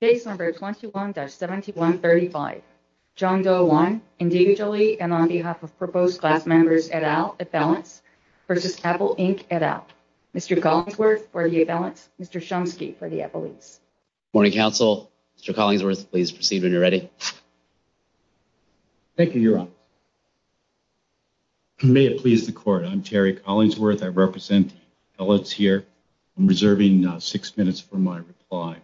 Case number 21-7135, John Doe 1, individually and on behalf of proposed class members et al., at balance, v. Apple Inc. et al., Mr. Collingsworth for the at-balance, Mr. Shumsky for the at-balance. Morning, counsel. Mr. Collingsworth, please proceed when you're ready. Thank you, Your Honor. May it please the Court. I'm Terry Collingsworth. I represent the appellates here. I'm reserving six minutes for my reply.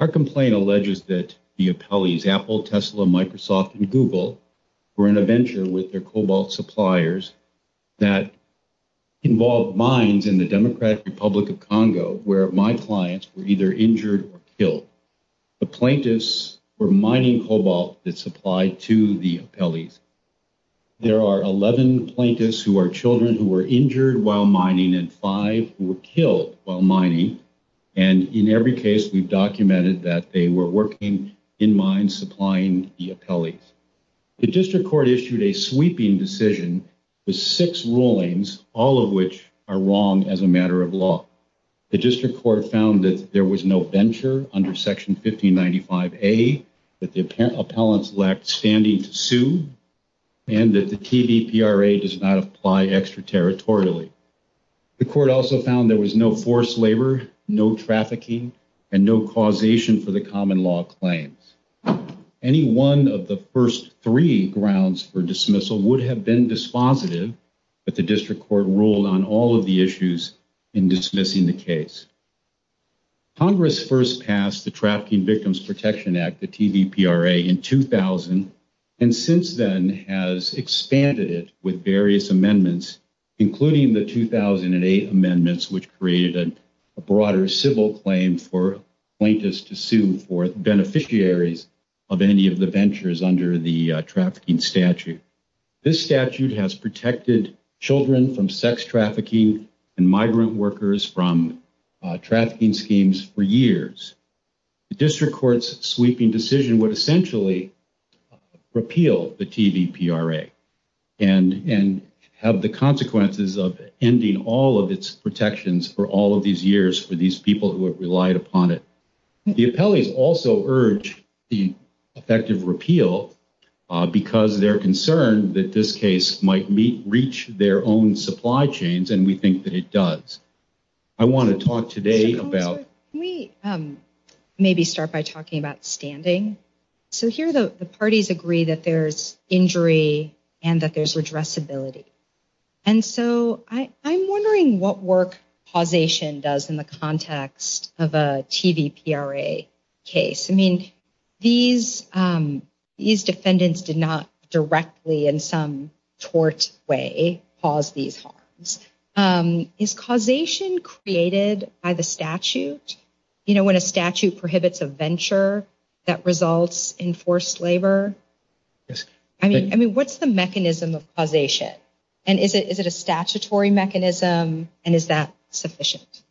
Our complaint alleges that the appellees, Apple, Tesla, Microsoft, and Google, were on a venture with their cobalt suppliers that involved mines in the Democratic Republic of Congo where my clients were either injured or killed. The plaintiffs were mining cobalt that supplied to the appellees. There are 11 plaintiffs who are children who were injured while mining and five who were killed while mining. And in every case, we've documented that they were working in mines supplying the appellees. The district court issued a sweeping decision with six rulings, all of which are wrong as a matter of law. The district court found that there was no venture under Section 1595A, that the appellants lacked standing to sue, and that the TDPRA does not apply extraterritorially. The court also found there was no forced labor, no trafficking, and no causation for the common law claim. Any one of the first three grounds for dismissal would have been dispositive, but the district court ruled on all of the issues in dismissing the case. Congress first passed the Trafficking Victims Protection Act, the TDPRA, in 2000, and since then has expanded it with various amendments, including the 2008 amendments, which created a broader civil claim for plaintiffs to sue for beneficiaries of any of the ventures under the trafficking statute. This statute has protected children from sex trafficking and migrant workers from trafficking schemes for years. The district court's sweeping decision would essentially repeal the TDPRA and have the consequences of ending all of its protections for all of these years for these people who have relied upon it. The appellees also urge the effective repeal because they're concerned that this case might reach their own supply chains, and we think that it does. I want to talk today about... Can we maybe start by talking about standing? So here the parties agree that there's injury and that there's addressability. And so I'm wondering what work causation does in the context of a TDPRA case. I mean, these defendants did not directly, in some tort way, cause these harms. Is causation created by the statute? You know, when a statute prohibits a venture that results in forced labor? I mean, what's the mechanism of causation? And is it a statutory mechanism, and is that sufficient?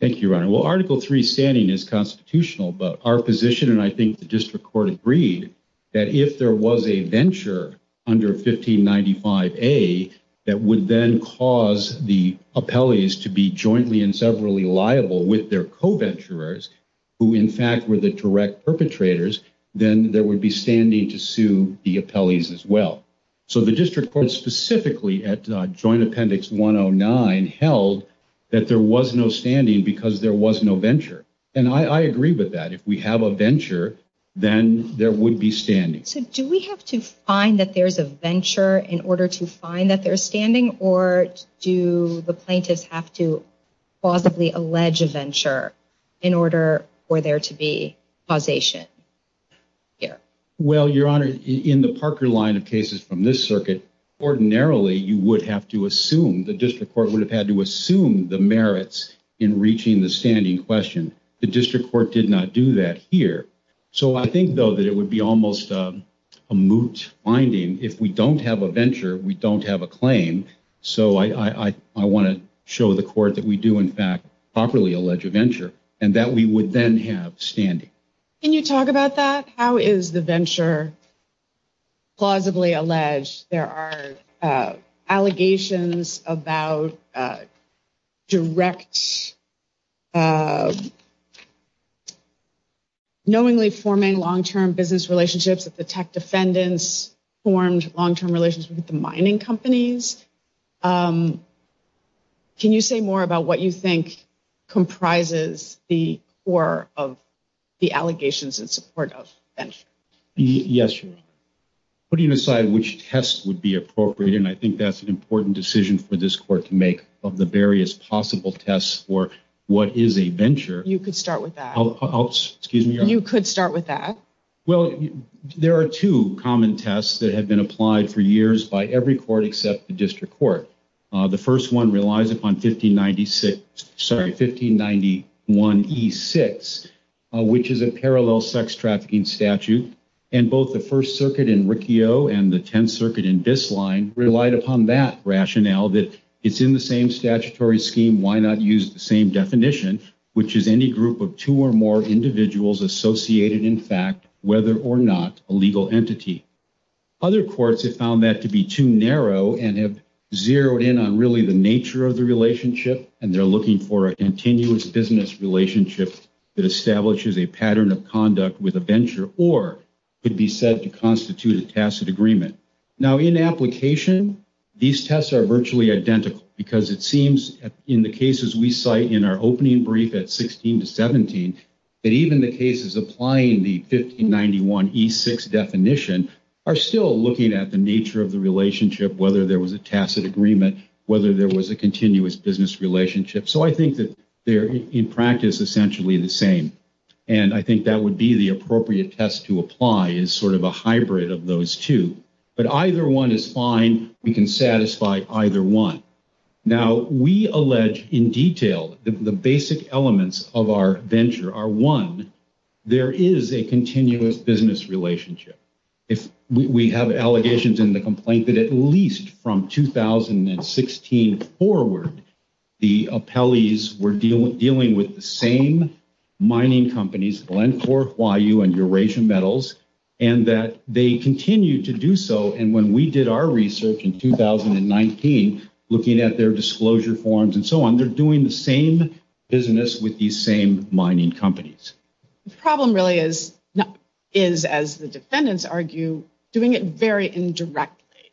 Thank you, Your Honor. Well, Article III standing is constitutional, but our position, and I think the district court agreed, that if there was a venture under 1595A that would then cause the appellees to be jointly and severally liable with their co-venturers, who in fact were the direct perpetrators, then there would be standing to sue the appellees as well. So the district court specifically at Joint Appendix 109 held that there was no standing because there was no venture. And I agree with that. If we have a venture, then there would be standing. So do we have to find that there's a venture in order to find that there's standing, or do the plaintiffs have to plausibly allege a venture in order for there to be causation? Well, Your Honor, in the Parker line of cases from this circuit, ordinarily you would have to assume, the district court would have had to assume the merits in reaching the standing question. The district court did not do that here. So I think, though, that it would be almost a moot finding if we don't have a venture, we don't have a claim. So I want to show the court that we do in fact properly allege a venture, and that we would then have standing. Can you talk about that? How is the venture plausibly alleged? There are allegations about direct, knowingly forming long-term business relationships with the tech defendants, formed long-term relationships with the mining companies. Can you say more about what you think comprises the core of the allegations in support of venture? Yes, Your Honor. Putting aside which test would be appropriate, and I think that's an important decision for this court to make, of the various possible tests for what is a venture. You could start with that. Excuse me? You could start with that. Well, there are two common tests that have been applied for years by every court except the district court. The first one relies upon 1591E6, which is a parallel sex trafficking statute. And both the First Circuit in Riccio and the Tenth Circuit in Bisline relied upon that rationale, that it's in the same statutory scheme, why not use the same definition, which is any group of two or more individuals associated, in fact, whether or not a legal entity. Other courts have found that to be too narrow and have zeroed in on really the nature of the relationship, and they're looking for a continuous business relationship that establishes a pattern of conduct with a venture, or could be said to constitute a tacit agreement. Now, in application, these tests are virtually identical because it seems, in the cases we cite in our opening brief at 16 to 17, that even the cases applying the 1591E6 definition are still looking at the nature of the relationship, whether there was a tacit agreement, whether there was a continuous business relationship. So I think that they're, in practice, essentially the same. And I think that would be the appropriate test to apply as sort of a hybrid of those two. But either one is fine. We can satisfy either one. Now, we allege in detail that the basic elements of our venture are, one, there is a continuous business relationship. We have allegations in the complaint that at least from 2016 forward, the appellees were dealing with the same mining companies, Glencore, Huayu, and Eurasian Metals, and that they continue to do so. And when we did our research in 2019, looking at their disclosure forms and so on, they're doing the same business with these same mining companies. The problem really is, as the defendants argue, doing it very indirectly.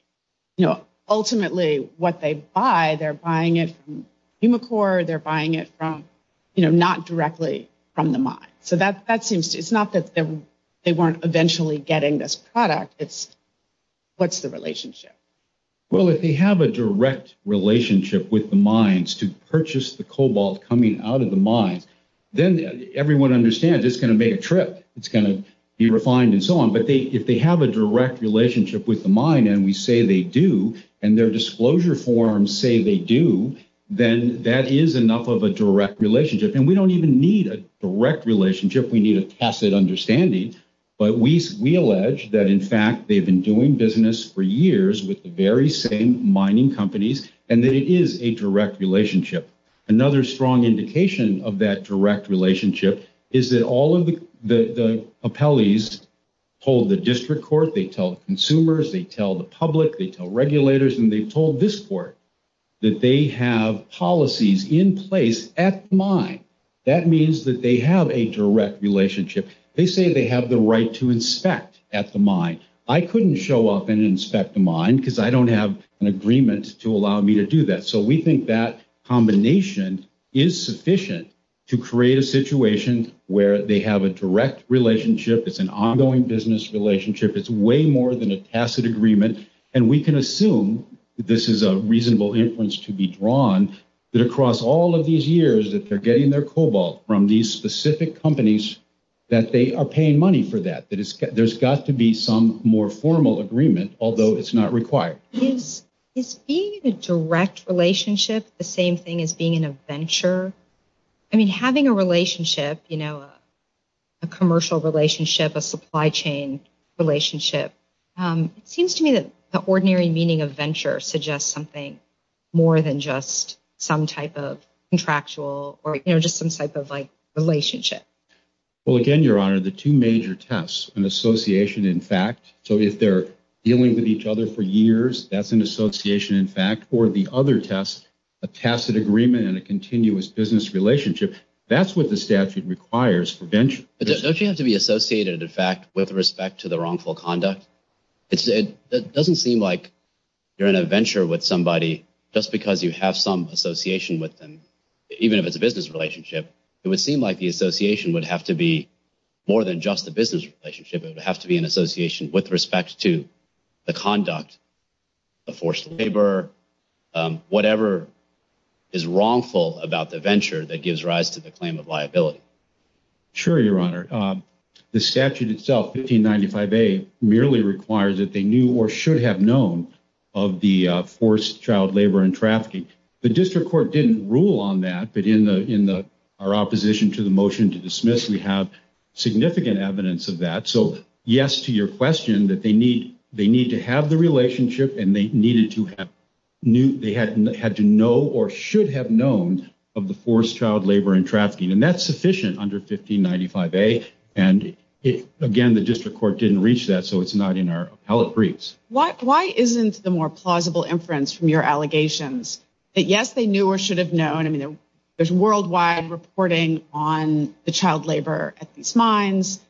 Ultimately, what they buy, they're buying it from Humacore. They're buying it from, you know, not directly from the mine. It's not that they weren't eventually getting this product. It's, what's the relationship? Well, if they have a direct relationship with the mines to purchase the cobalt coming out of the mine, then everyone understands it's going to make a trip. It's going to be refined and so on. But if they have a direct relationship with the mine, and we say they do, and their disclosure forms say they do, then that is enough of a direct relationship. And we don't even need a direct relationship. We need a tacit understanding. But we allege that, in fact, they've been doing business for years with the very same mining companies, and that it is a direct relationship. Another strong indication of that direct relationship is that all of the appellees told the district court, they told consumers, they tell the public, they tell regulators, and they told this court that they have policies in place at the mine. That means that they have a direct relationship. They say they have the right to inspect at the mine. I couldn't show up and inspect the mine because I don't have an agreement to allow me to do that. So we think that combination is sufficient to create a situation where they have a direct relationship. It's an ongoing business relationship. It's way more than a tacit agreement. And we can assume that this is a reasonable inference to be drawn that across all of these years, if they're getting their cobalt from these specific companies, that they are paying money for that. There's got to be some more formal agreement, although it's not required. Is being in a direct relationship the same thing as being in a venture? I mean, having a relationship, you know, a commercial relationship, a supply chain relationship, it seems to me that the ordinary meaning of venture suggests something more than just some type of contractual, or, you know, just some type of, like, relationship. Well, again, Your Honor, the two major tests, an association in fact, so if they're dealing with each other for years, that's an association in fact, or the other test, a tacit agreement and a continuous business relationship, that's what the statute requires for venture. There's no chance to be associated, in fact, with respect to the wrongful conduct. It doesn't seem like you're in a venture with somebody just because you have some association with them. Even if it's a business relationship, it would seem like the association would have to be more than just a business relationship. It would have to be an association with respect to the conduct, the forced labor, whatever is wrongful about the venture that gives rise to the claim of liability. Sure, Your Honor. The statute itself, 1595A, merely requires that they knew or should have known of the forced child labor and trafficking. The district court didn't rule on that, but in our opposition to the motion to dismiss, we have significant evidence of that. So, yes to your question that they need to have the relationship and they needed to have, they had to know or should have known of the forced child labor and trafficking. And that's sufficient under 1595A. And, again, the district court didn't reach that, so it's not in our appellate briefs. Why isn't the more plausible inference from your allegations that, yes, they knew or should have known? There's worldwide reporting on the child labor at these mines.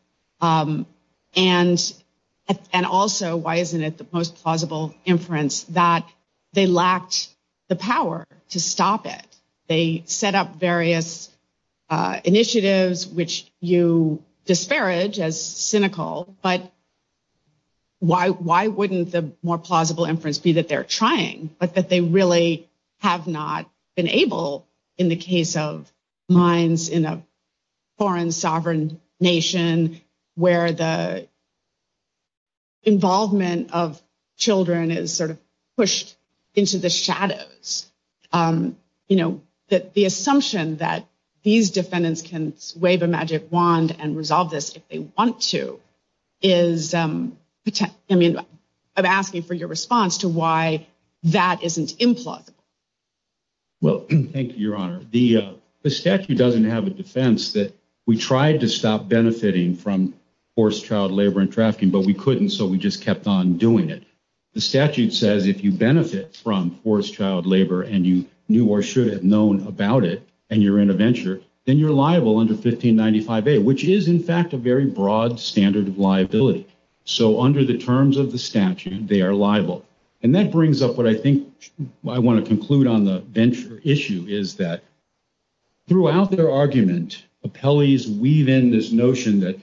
And also, why isn't it the most plausible inference that they lacked the power to stop it? They set up various initiatives, which you disparage as cynical, but why wouldn't the more plausible inference be that they're trying, but that they really have not been able in the case of mines in a foreign sovereign nation where the involvement of children is sort of pushed into the shadows. You know, the assumption that these defendants can wave a magic wand and resolve this if they want to is, I mean, I'm asking for your response to why that isn't implausible. Well, thank you, Your Honor. The statute doesn't have a defense that we tried to stop benefiting from forced child labor and trafficking, but we couldn't, so we just kept on doing it. The statute says if you benefit from forced child labor and you knew or should have known about it and you're in a venture, then you're liable under 1595A, which is, in fact, a very broad standard of liability. So under the terms of the statute, they are liable. And that brings up what I think I want to conclude on the venture issue is that throughout their argument, appellees weave in this notion that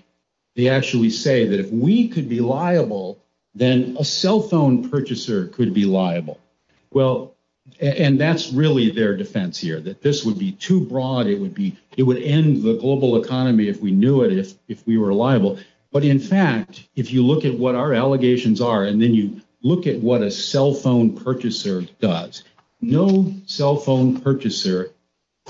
they actually say that if we could be liable, then a cell phone purchaser could be liable. Well, and that's really their defense here, that this would be too broad. It would end the global economy if we knew it, if we were liable. But in fact, if you look at what our allegations are and then you look at what a cell phone purchaser does, no cell phone purchaser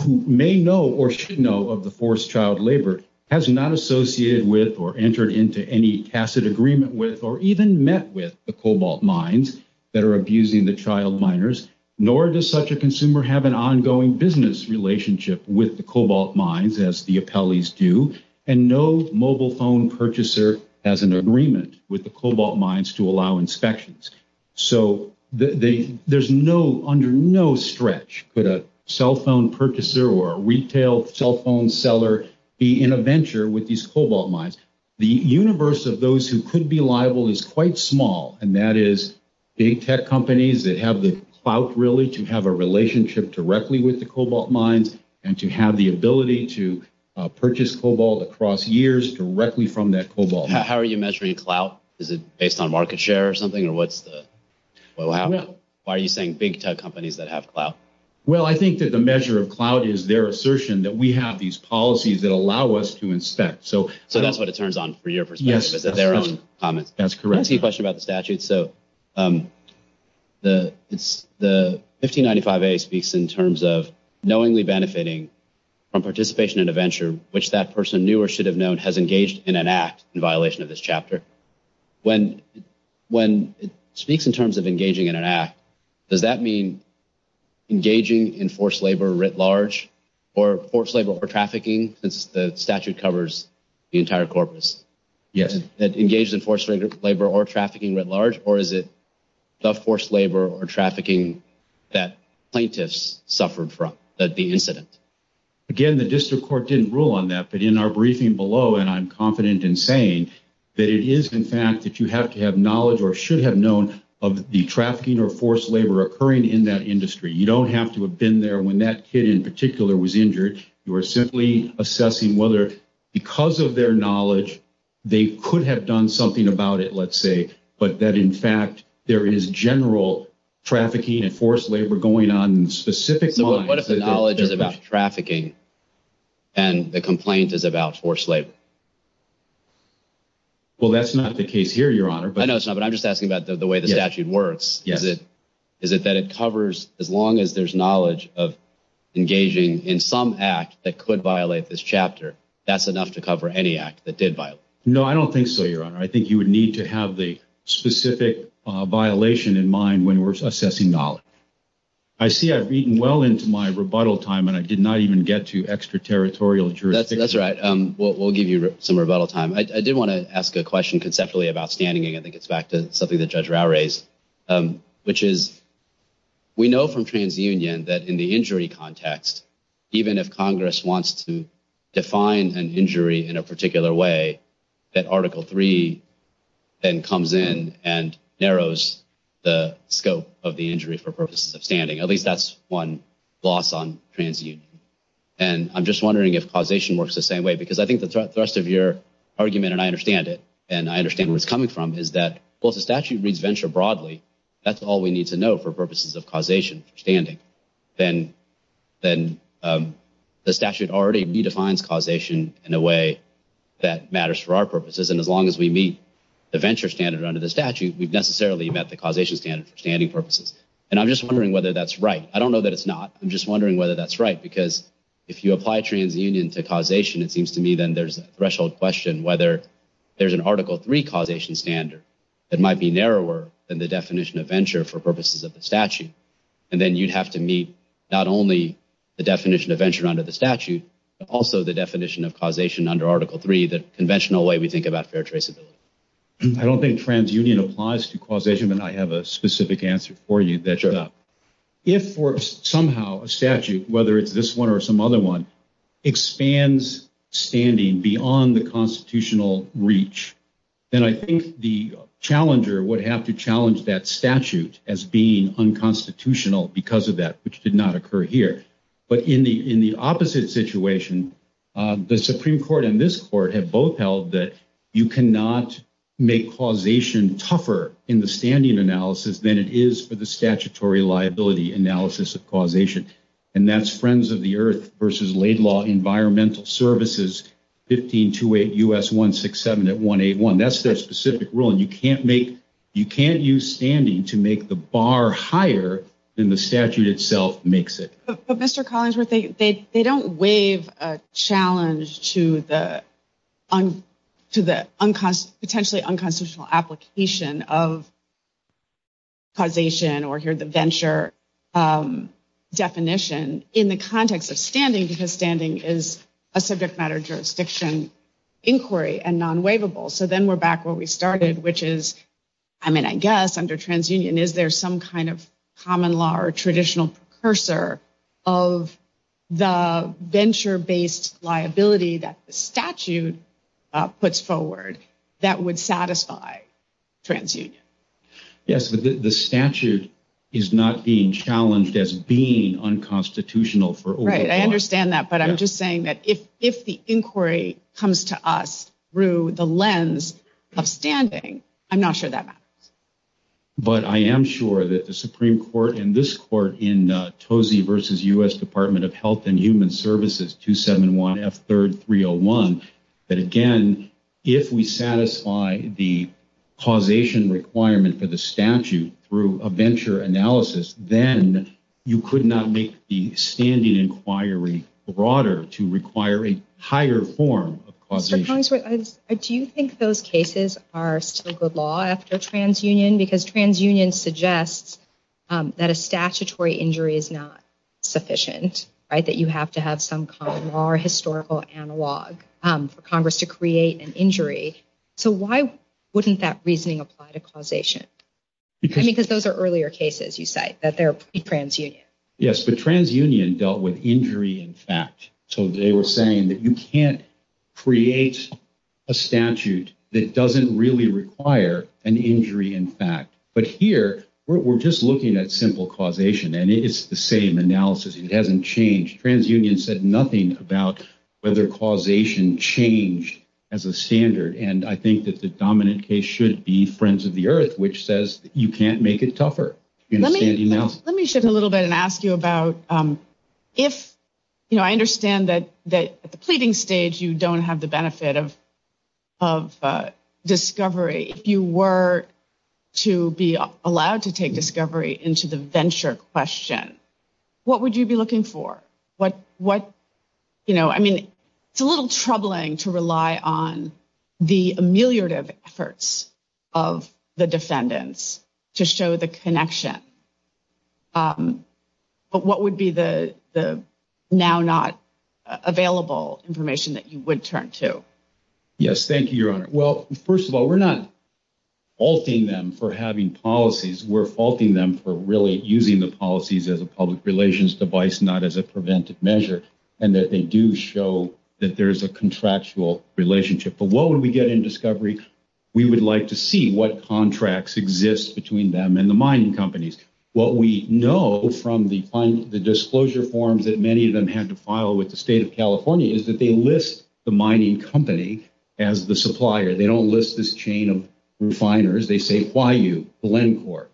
who may know or should know of the forced child labor has not associated with or entered into any tacit agreement with or even met with the cobalt mines that are abusing the child miners, nor does such a consumer have an ongoing business relationship with the cobalt mines, as the appellees do, and no mobile phone purchaser has an agreement with the cobalt mines to allow inspections. So there's no, under no stretch for the cell phone purchaser or retail cell phone seller in a venture with these cobalt mines. The universe of those who could be liable is quite small, and that is big tech companies that have the clout really to have a relationship directly with the cobalt mines and to have the ability to purchase cobalt across years directly from that cobalt mine. How are you measuring clout? Is it based on market share or something, or what's the... Well, I don't know. Why are you saying big tech companies that have clout? Well, I think that the measure of clout is their assertion that we have these policies that allow us to inspect. So that's what it turns on for your perspective. Yes. It's their own comment. That's correct. I have a question about the statute. So the 1595A speaks in terms of knowingly benefiting from participation in a venture which that person knew or should have known has engaged in an act in violation of this chapter. When it speaks in terms of engaging in an act, does that mean engaging in forced labor writ large or forced labor or trafficking, since the statute covers the entire corpus? Yes. Engaged in forced labor or trafficking writ large, or is it the forced labor or trafficking that plaintiffs suffered from, the incident? Again, the district court didn't rule on that, but in our briefing below, and I'm confident in saying that it is, in fact, if you have to have knowledge or should have known of the trafficking or forced labor occurring in that industry. You don't have to have been there when that kid in particular was injured. You are simply assessing whether, because of their knowledge, they could have done something about it, let's say, but that, in fact, there is general trafficking and forced labor going on in specific... But if the knowledge is about trafficking and the complaint is about forced labor? Well, that's not the case here, Your Honor. I know it's not, but I'm just asking about the way the statute works. Is it that it covers, as long as there's knowledge of engaging in some act that could violate this chapter, that's enough to cover any act that did violate? No, I don't think so, Your Honor. I think you would need to have the specific violation in mind when we're assessing knowledge. I see I've eaten well into my rebuttal time, and I did not even get to extraterritorial jurisdiction. That's right. We'll give you some rebuttal time. I did want to ask a question conceptually about standing, and I think it's back to something that Judge Rao raised, which is we know from TransUnion that in the injury context, even if Congress wants to define an injury in a particular way, that Article III then comes in and narrows the scope of the injury for purposes of standing. At least that's one loss on TransUnion. And I'm just wondering if causation works the same way, because I think the thrust of your argument, and I understand it, and I understand where it's coming from, is that, well, if the statute reads venture broadly, that's all we need to know for purposes of causation, standing. Then the statute already redefines causation in a way that matters for our purposes, and as long as we meet the venture standard under the statute, we've necessarily met the causation standard for standing purposes. And I'm just wondering whether that's right. I don't know that it's not. I'm just wondering whether that's right, because if you apply TransUnion to causation, it seems to me then there's a threshold question whether there's an Article III causation standard that might be narrower than the definition of venture for purposes of the statute. And then you'd have to meet not only the definition of venture under the statute, but also the definition of causation under Article III, the conventional way we think about fair traceability. I don't think TransUnion applies to causation, and I have a specific answer for you. Sure. If somehow a statute, whether it's this one or some other one, expands standing beyond the constitutional reach, then I think the challenger would have to challenge that statute as being unconstitutional because of that, which did not occur here. But in the opposite situation, the Supreme Court and this Court have both held that you cannot make causation tougher in the standing analysis than it is for the statutory liability analysis of causation, and that's Friends of the Earth versus Laidlaw Environmental Services, 1528 U.S. 167 at 181. That's their specific rule, and you can't use standing to make the bar higher than the statute itself makes it. But, Mr. Collinsworth, they don't waive a challenge to the potentially unconstitutional application of causation or, here, the venture definition in the context of standing because standing is a subject matter jurisdiction inquiry and non-waivable. So then we're back where we started, which is, I mean, I guess, under TransUnion, is there some kind of common law or traditional precursor of the venture-based liability that the statute puts forward that would satisfy TransUnion? Yes, but the statute is not being challenged as being unconstitutional for over time. Right, I understand that, but I'm just saying that if the inquiry comes to us through the lens of standing, I'm not sure that matters. So, Mr. Collinsworth, do you think those cases are secret law after TransUnion? Because TransUnion suggests that a statutory injury is not sufficient, right? That you have to have some kind of law or historical analog for Congress to create an injury. So why wouldn't that reasoning apply to causation? I mean, because those are earlier cases, you say, that they're pre-TransUnion. Yes, but TransUnion dealt with injury in fact. So they were saying that you can't create a statute that doesn't really require an injury in fact. But here, we're just looking at simple causation, and it's the same analysis. It hasn't changed. TransUnion said nothing about whether causation changed as a standard, and I think that the dominant case should be Friends of the Earth, which says you can't make it tougher. Let me shift a little bit and ask you about if, you know, I understand that at the pleading stage, you don't have the benefit of discovery. If you were to be allowed to take discovery into the venture question, what would you be looking for? You know, I mean, it's a little troubling to rely on the ameliorative efforts of the defendants to show the connection. But what would be the now not available information that you would turn to? Yes, thank you, Your Honor. Well, first of all, we're not faulting them for having policies. We're faulting them for really using the policies as a public relations device, not as a preventive measure, and that they do show that there's a contractual relationship. But what would we get in discovery? We would like to see what contracts exist between them and the mining companies. What we know from the disclosure forms that many of them had to file with the state of California is that they list the mining company as the supplier. They don't list this chain of refiners. They say Huayu, Glencore.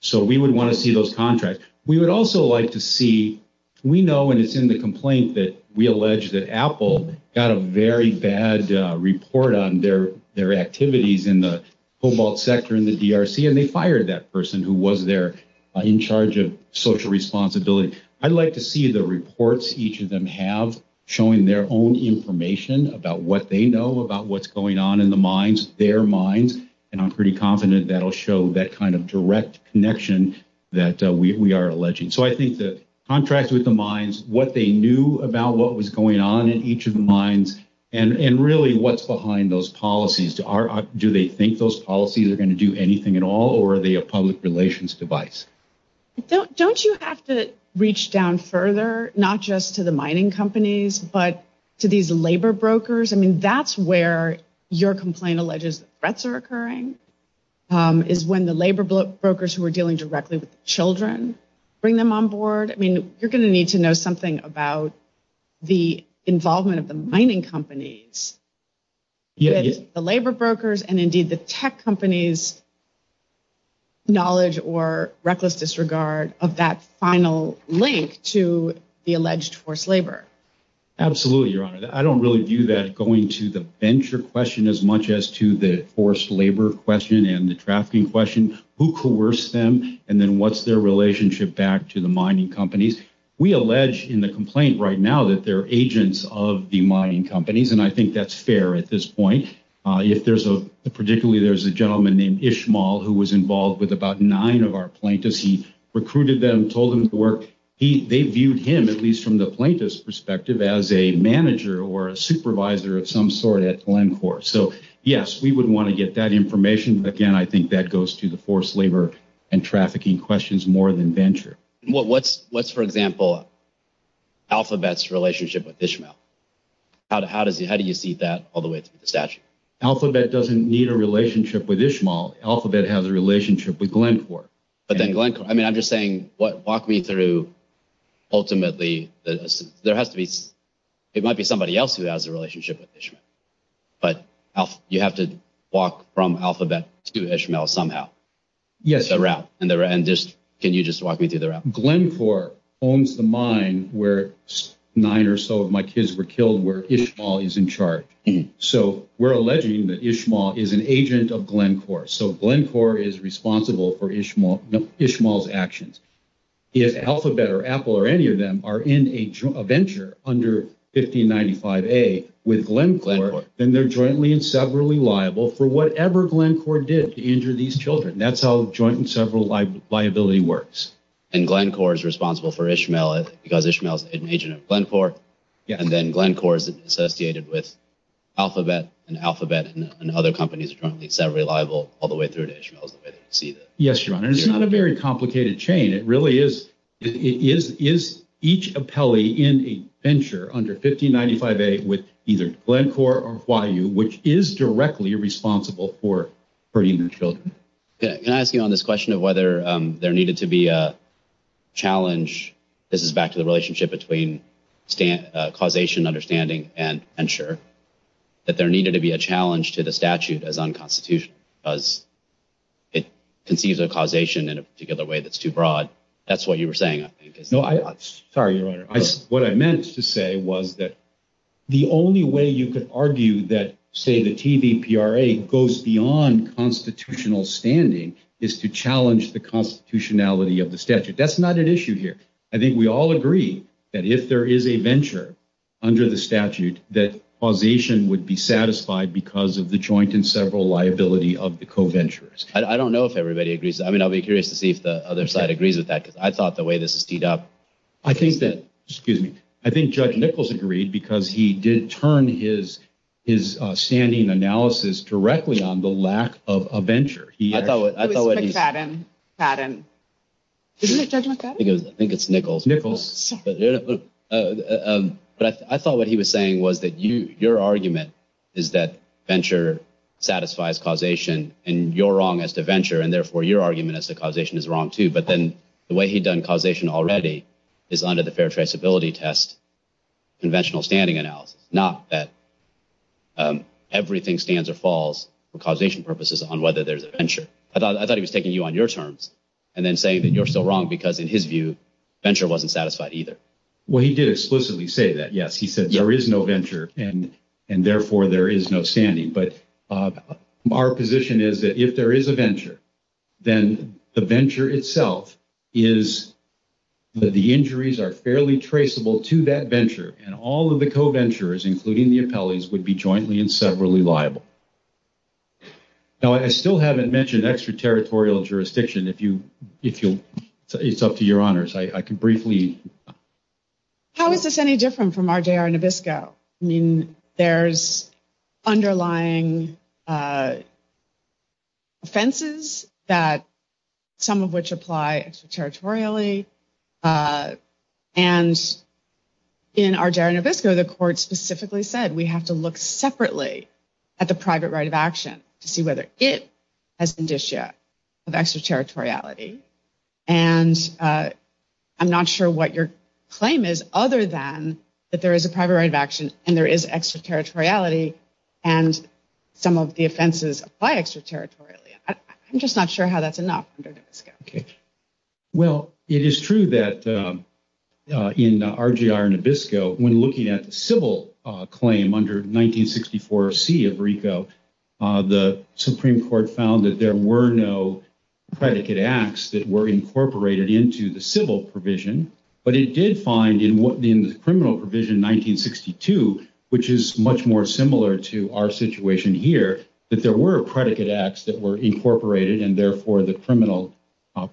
So we would want to see those contracts. We would also like to see – we know, and it's in the complaint that we allege that Apple got a very bad report on their activities in the cobalt sector in the DRC, and they fired that person who was there in charge of social responsibility. I'd like to see the reports each of them have showing their own information about what they know about what's going on in the mines, their mines, and I'm pretty confident that'll show that kind of direct connection that we are alleging. So I think the contracts with the mines, what they knew about what was going on in each of the mines, and really what's behind those policies. Do they think those policies are going to do anything at all, or are they a public relations device? Don't you have to reach down further, not just to the mining companies, but to these labor brokers? I mean, that's where your complaint alleges threats are occurring, is when the labor brokers who are dealing directly with children bring them on board. I mean, you're going to need to know something about the involvement of the mining companies, the labor brokers, and indeed the tech companies' knowledge or reckless disregard of that final link to the alleged forced labor. Absolutely, Your Honor. I don't really view that going to the venture question as much as to the forced labor question and the trafficking question. Who coerced them, and then what's their relationship back to the mining companies? We allege in the complaint right now that they're agents of the mining companies, and I think that's fair at this point. Particularly, there's a gentleman named Ishmael who was involved with about nine of our plaintiffs. He recruited them, told them to work. They viewed him, at least from the plaintiff's perspective, as a manager or a supervisor of some sort at Glencore. So, yes, we would want to get that information. Again, I think that goes to the forced labor and trafficking questions more than venture. What's, for example, Alphabet's relationship with Ishmael? How do you see that all the way to the statute? Alphabet doesn't need a relationship with Ishmael. Alphabet has a relationship with Glencore. I'm just saying, walk me through, ultimately, there might be somebody else who has a relationship with Ishmael. But you have to walk from Alphabet to Ishmael somehow. Yes. Can you just walk me through the route? Glencore owns the mine where nine or so of my kids were killed, where Ishmael is in charge. So we're alleging that Ishmael is an agent of Glencore. So Glencore is responsible for Ishmael's actions. If Alphabet or Apple or any of them are in a venture under 1595A with Glencore, then they're jointly and severally liable for whatever Glencore did to injure these children. That's how joint and severability works. And Glencore is responsible for Ishmael because Ishmael is an agent of Glencore. And then Glencore is associated with Alphabet and Alphabet and other companies are jointly and severally liable all the way through to Ishmael. Yes, John, and it's not a very complicated chain. It really is each appellee in a venture under 1595A with either Glencore or Huayu, which is directly responsible for injuring children. Can I ask you on this question of whether there needed to be a challenge? This is back to the relationship between causation, understanding, and ensure. That there needed to be a challenge to the statute as unconstitutional because it concedes a causation in a particular way that's too broad. That's what you were saying. No, I'm sorry, Your Honor. What I meant to say was that the only way you could argue that, say, the TVPRA goes beyond constitutional standing is to challenge the constitutionality of the statute. That's not an issue here. I think we all agree that if there is a venture under the statute, that causation would be satisfied because of the joint and several liability of the co-venturers. I don't know if everybody agrees. I mean, I'll be curious to see if the other side agrees with that because I thought the way this was teed up. I think that, excuse me, I think Judge Nichols agreed because he did turn his standing analysis directly on the lack of a venture. I thought what he was saying was that your argument is that venture satisfies causation and you're wrong as the venture and, therefore, your argument as the causation is wrong, too. But then the way he'd done causation already is under the Fair Traceability Test conventional standing analysis, not that everything stands or falls for causation purposes on whether there's a venture. I thought he was taking you on your terms and then saying that you're so wrong because, in his view, venture wasn't satisfied either. Well, he did explicitly say that, yes. He said there is no venture and, therefore, there is no standing. But our position is that if there is a venture, then the venture itself is that the injuries are fairly traceable to that venture and all of the co-ventures, including the appellees, would be jointly and severally liable. Now, I still haven't mentioned extraterritorial jurisdiction. It's up to your honors. I can briefly – How is this any different from RJR Nabisco? I mean, there's underlying offenses, some of which apply extraterritorially. And in RJR Nabisco, the court specifically said we have to look separately at the private right of action to see whether it has been discharged of extraterritoriality. And I'm not sure what your claim is other than that there is a private right of action and there is extraterritoriality and some of the offenses apply extraterritorially. I'm just not sure how that's enough under Nabisco. Well, it is true that in RJR Nabisco, when looking at the civil claim under 1964C of RICO, the Supreme Court found that there were no predicate acts that were incorporated into the civil provision. But it did find in the criminal provision 1962, which is much more similar to our situation here, that there were predicate acts that were incorporated, and therefore the criminal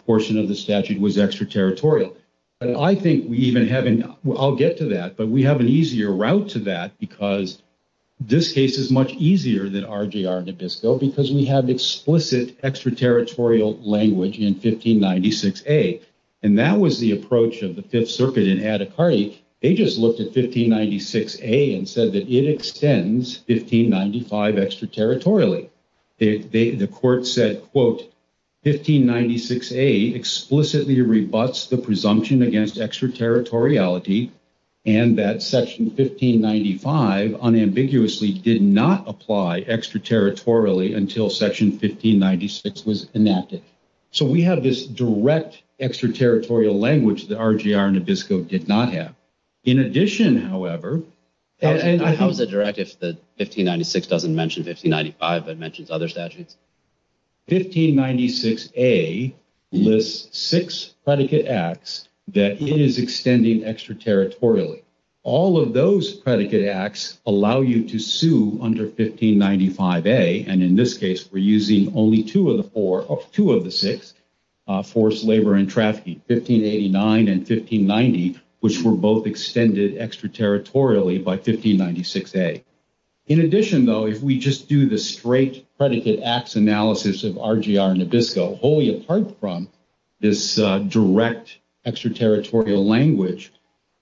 portion of the statute was extraterritorial. And I think we even have – I'll get to that. But we have an easier route to that because this case is much easier than RJR Nabisco because we have explicit extraterritorial language in 1596A. And that was the approach of the Fifth Circuit in Attica. They just looked at 1596A and said that it extends 1595 extraterritorially. The court said, quote, 1596A explicitly rebuts the presumption against extraterritoriality and that Section 1595 unambiguously did not apply extraterritorially until Section 1596 was enacted. So we have this direct extraterritorial language that RJR Nabisco did not have. In addition, however – How is it direct if 1596 doesn't mention 1595 but mentions other statutes? 1596A lists six predicate acts that it is extending extraterritorially. All of those predicate acts allow you to sue under 1595A, and in this case we're using only two of the six, forced labor and trafficking, 1589 and 1590, which were both extended extraterritorially by 1596A. In addition, though, if we just do the straight predicate acts analysis of RJR Nabisco, wholly apart from this direct extraterritorial language,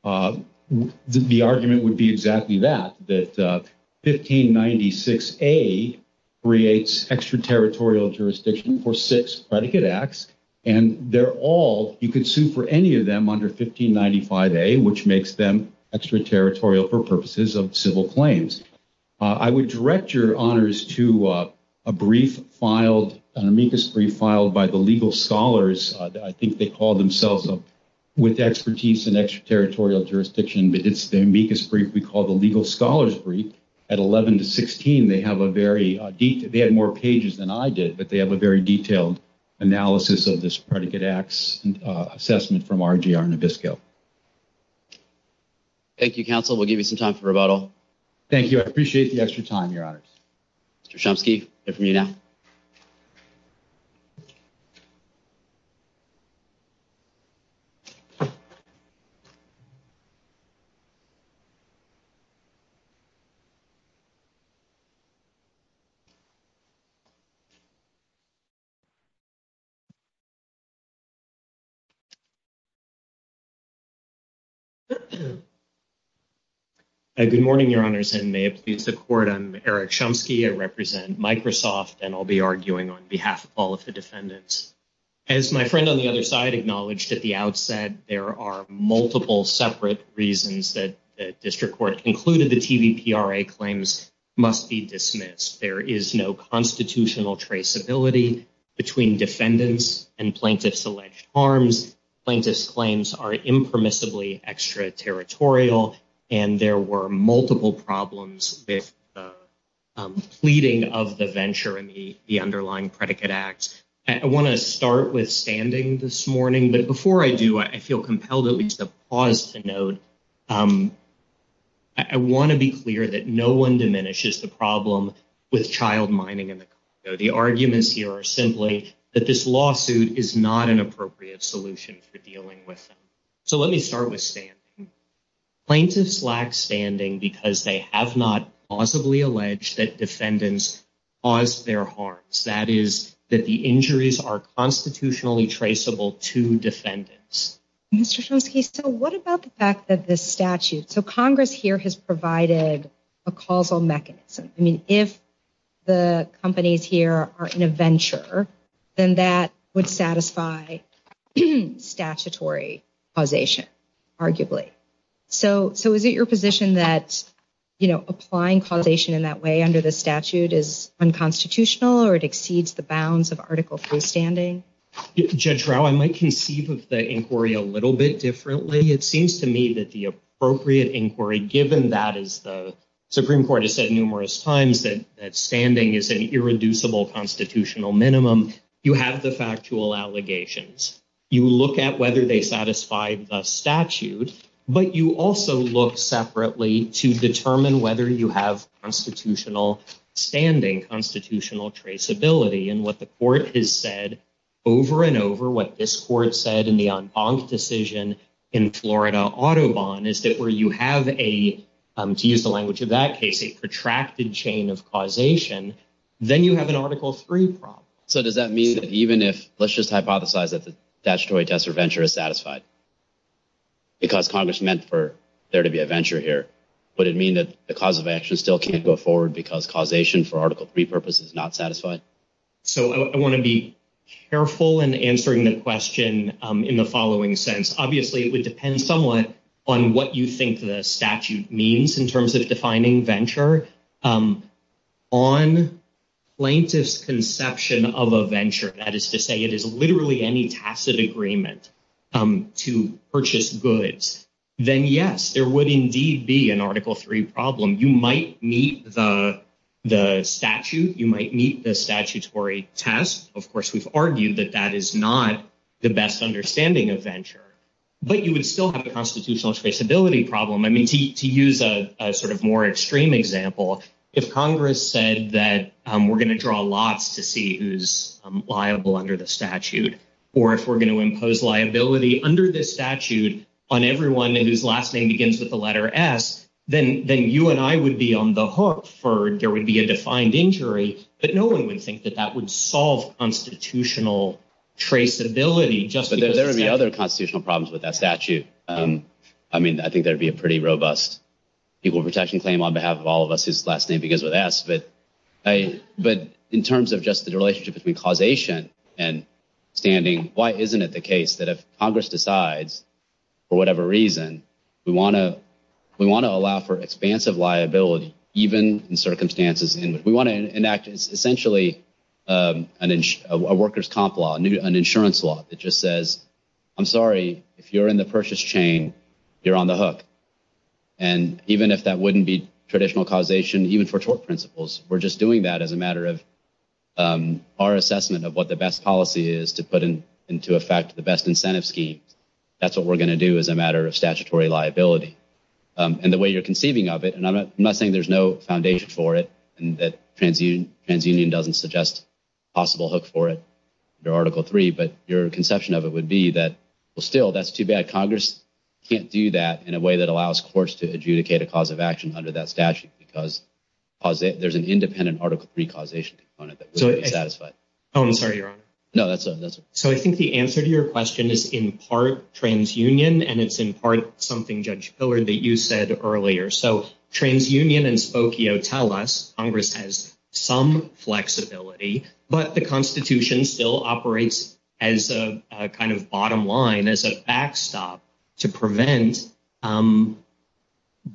the argument would be exactly that, that 1596A creates extraterritorial jurisdiction for six predicate acts, and they're all – you can sue for any of them under 1595A, which makes them extraterritorial for purposes of civil claims. I would direct your honors to a brief filed, an amicus brief filed by the legal scholars, that I think they call themselves, with expertise in extraterritorial jurisdiction, but it's the amicus brief we call the legal scholars brief. At 11 to 16, they have a very – they had more pages than I did, but they have a very detailed analysis of this predicate acts assessment from RGR Nabisco. Thank you, counsel. We'll give you some time for rebuttal. Thank you. I appreciate the extra time, your honors. Mr. Chomsky, over to you now. Thank you. Good morning, your honors, and may it please the court, I'm Eric Chomsky. I represent Microsoft and I'll be arguing on behalf of all of the defendants. As my friend on the other side acknowledged at the outset, there are multiple separate reasons that the district court concluded the TVPRA claims must be dismissed. There is no constitutional traceability between defendants and plaintiffs' alleged harms. Plaintiffs' claims are impermissibly extraterritorial, and there were multiple problems with the pleading of the venture and the underlying predicate acts. I want to start with standing this morning, but before I do, I feel compelled at least to pause to note, I want to be clear that no one diminishes the problem with child mining in the country. The arguments here are simply that this lawsuit is not an appropriate solution for dealing with them. So let me start with standing. Plaintiffs lack standing because they have not plausibly alleged that defendants caused their harms. That is, that the injuries are constitutionally traceable to defendants. Mr. Chomsky, so what about the fact that this statute, so Congress here has provided a causal mechanism. I mean, if the companies here are in a venture, then that would satisfy statutory causation, arguably. So is it your position that, you know, applying causation in that way under the statute is unconstitutional, or it exceeds the bounds of article for standing? Judge Rao, I might conceive of the inquiry a little bit differently. It seems to me that the appropriate inquiry, given that, as the Supreme Court has said numerous times, that standing is an irreducible constitutional minimum, you have the factual allegations. You look at whether they satisfy the statute, but you also look separately to determine whether you have constitutional standing, constitutional traceability. And what the court has said over and over, what this court said in the en banc decision in Florida-Audubon, is that where you have a, to use the language of that case, a protracted chain of causation, then you have an article three problem. So does that mean that even if, let's just hypothesize that the statutory test of venture is satisfied, because Congress meant for there to be a venture here, would it mean that the cause of action still can't go forward because causation for article three purpose is not satisfied? So I want to be careful in answering the question in the following sense. Obviously, it would depend somewhat on what you think the statute means in terms of defining venture. However, on plaintiff's conception of a venture, that is to say it is literally any tacit agreement to purchase goods, then yes, there would indeed be an article three problem. You might meet the statute, you might meet the statutory test. Of course, we've argued that that is not the best understanding of venture. But you would still have the constitutional traceability problem. I mean, to use a sort of more extreme example, if Congress said that we're going to draw lots to see who's liable under the statute, or if we're going to impose liability under this statute on everyone whose last name begins with the letter S, then you and I would be on the hook for there would be a defined injury. But no one would think that that would solve constitutional traceability. But there would be other constitutional problems with that statute. I mean, I think there would be a pretty robust people protection claim on behalf of all of us whose last name begins with S. But in terms of just the relationship between causation and standing, why isn't it the case that if Congress decides, for whatever reason, we want to allow for expansive liability even in circumstances in which we want to enact essentially a workers' comp law, an insurance law that just says, I'm sorry, if you're in the purchase chain, you're on the hook. And even if that wouldn't be traditional causation, even for tort principles, we're just doing that as a matter of our assessment of what the best policy is to put into effect the best incentive scheme. That's what we're going to do as a matter of statutory liability. And the way you're conceiving of it, and I'm not saying there's no foundation for it, and that TransUnion doesn't suggest a possible hook for it under Article 3, but your conception of it would be that, well, still, that's too bad. Congress can't do that in a way that allows courts to adjudicate a cause of action under that statute, because there's an independent Article 3 causation in front of it. Oh, I'm sorry, Robert. No, that's OK. So I think the answer to your question is in part TransUnion, and it's in part something, Judge Pillard, that you said earlier. So TransUnion and Spokio tell us Congress has some flexibility, but the Constitution still operates as a kind of bottom line, as a backstop to prevent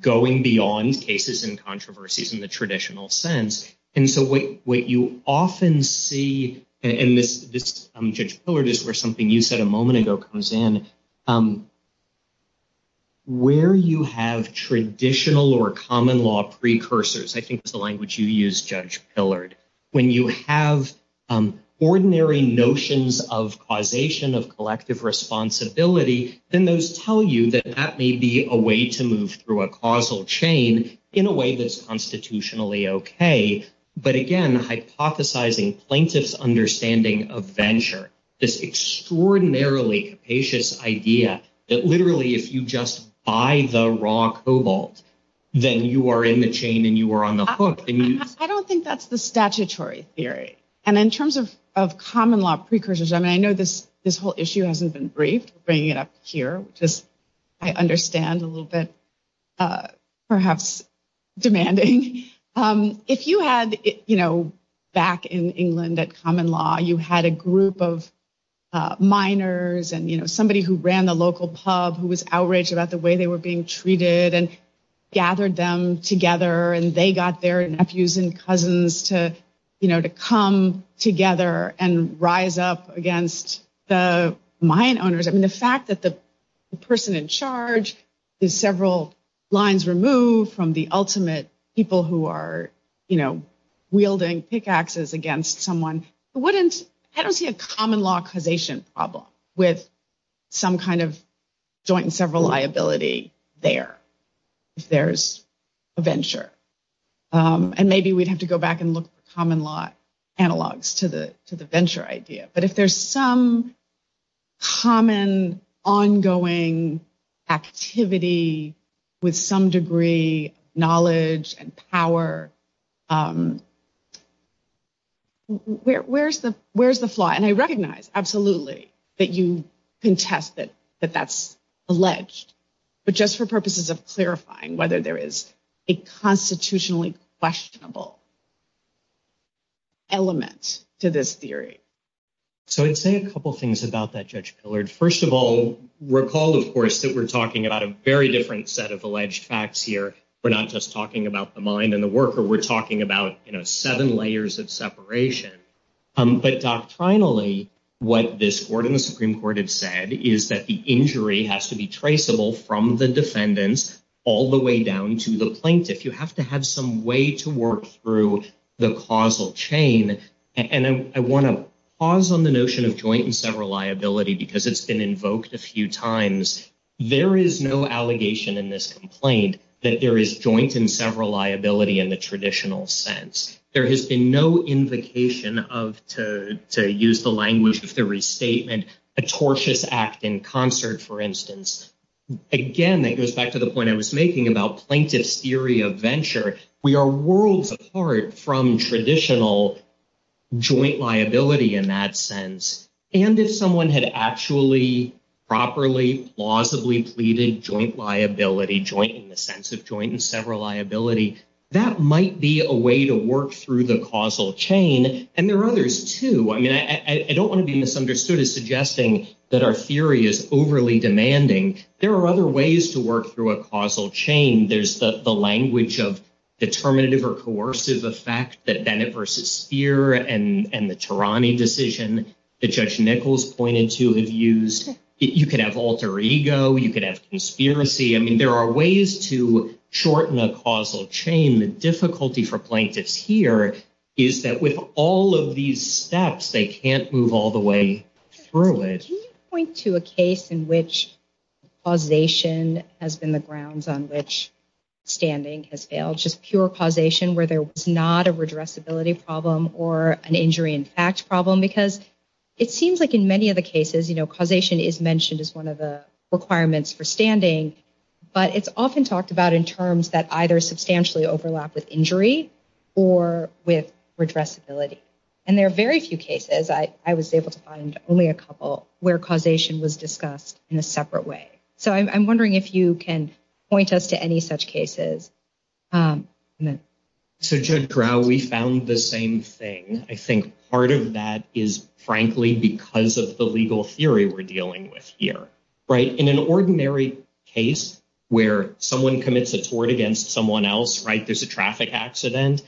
going beyond cases and controversies in the traditional sense. And so what you often see, and this, Judge Pillard, is where something you said a moment ago comes in, where you have traditional or common law precursors, I think it's the language you use, Judge Pillard, when you have ordinary notions of causation of collective responsibility, then those tell you that that may be a way to move through a causal chain in a way that's constitutionally OK. But again, hypothesizing plaintiff's understanding of venture, this extraordinarily capacious idea that literally if you just buy the raw cobalt, then you are in the chain and you are on the hook. I don't think that's the statutory theory. And in terms of common law precursors, I mean, I know this whole issue hasn't been briefed, bringing it up here, which is, I understand, a little bit perhaps demanding. If you had, you know, back in England at common law, you had a group of miners and, you know, somebody who ran the local pub who was outraged about the way they were being treated and gathered them together and they got their nephews and cousins to, you know, to come together and rise up against the mine owners. I mean, the fact that the person in charge is several lines removed from the ultimate people who are, you know, wielding pickaxes against someone wouldn't, I don't see a common law causation problem with some kind of joint and several liability there if there's a venture. And maybe we'd have to go back and look at the common law analogs to the venture idea. But if there's some common ongoing activity with some degree of knowledge and power, where's the flaw? And I recognize absolutely that you can test it, but that's alleged. But just for purposes of clarifying whether there is a constitutionally questionable element to this theory. So I'd say a couple of things about that, Judge Pillard. First of all, recall, of course, that we're talking about a very different set of alleged facts here. We're not just talking about the mine and the worker. We're talking about, you know, seven layers of separation. But finally, what this Supreme Court has said is that the injury has to be traceable from the defendants all the way down to the plaintiff. You have to have some way to work through the causal chain. And I want to pause on the notion of joint and several liability because it's been invoked a few times. There is no allegation in this complaint that there is joint and several liability in the traditional sense. There has been no invocation of, to use the language of the restatement, a tortious act in concert, for instance. Again, that goes back to the point I was making about plaintiff's theory of venture. We are worlds apart from traditional joint liability in that sense. And if someone had actually, properly, plausibly pleaded joint liability, joint in the sense of joint and several liability, that might be a way to work through the causal chain. And there are others, too. I mean, I don't want to be misunderstood as suggesting that our theory is overly demanding. There are other ways to work through a causal chain. There's the language of determinative or coercive effect that Bennett v. Speer and the Tarani decision that Judge Nichols pointed to and used. You can have alter ego. You can have conspiracy. I mean, there are ways to shorten a causal chain. The difficulty for plaintiffs here is that with all of these steps, they can't move all the way through it. Can you point to a case in which causation has been the grounds on which standing has failed? Just pure causation where there was not a redressability problem or an injury in fact problem? Because it seems like in many of the cases, causation is mentioned as one of the requirements for standing. But it's often talked about in terms that either substantially overlap with injury or with redressability. And there are very few cases. I was able to find only a couple where causation was discussed in a separate way. So I'm wondering if you can point us to any such cases. So Judge Corral, we found the same thing. I think part of that is frankly because of the legal theory we're dealing with here. In an ordinary case where someone commits a tort against someone else, right, there's a traffic accident,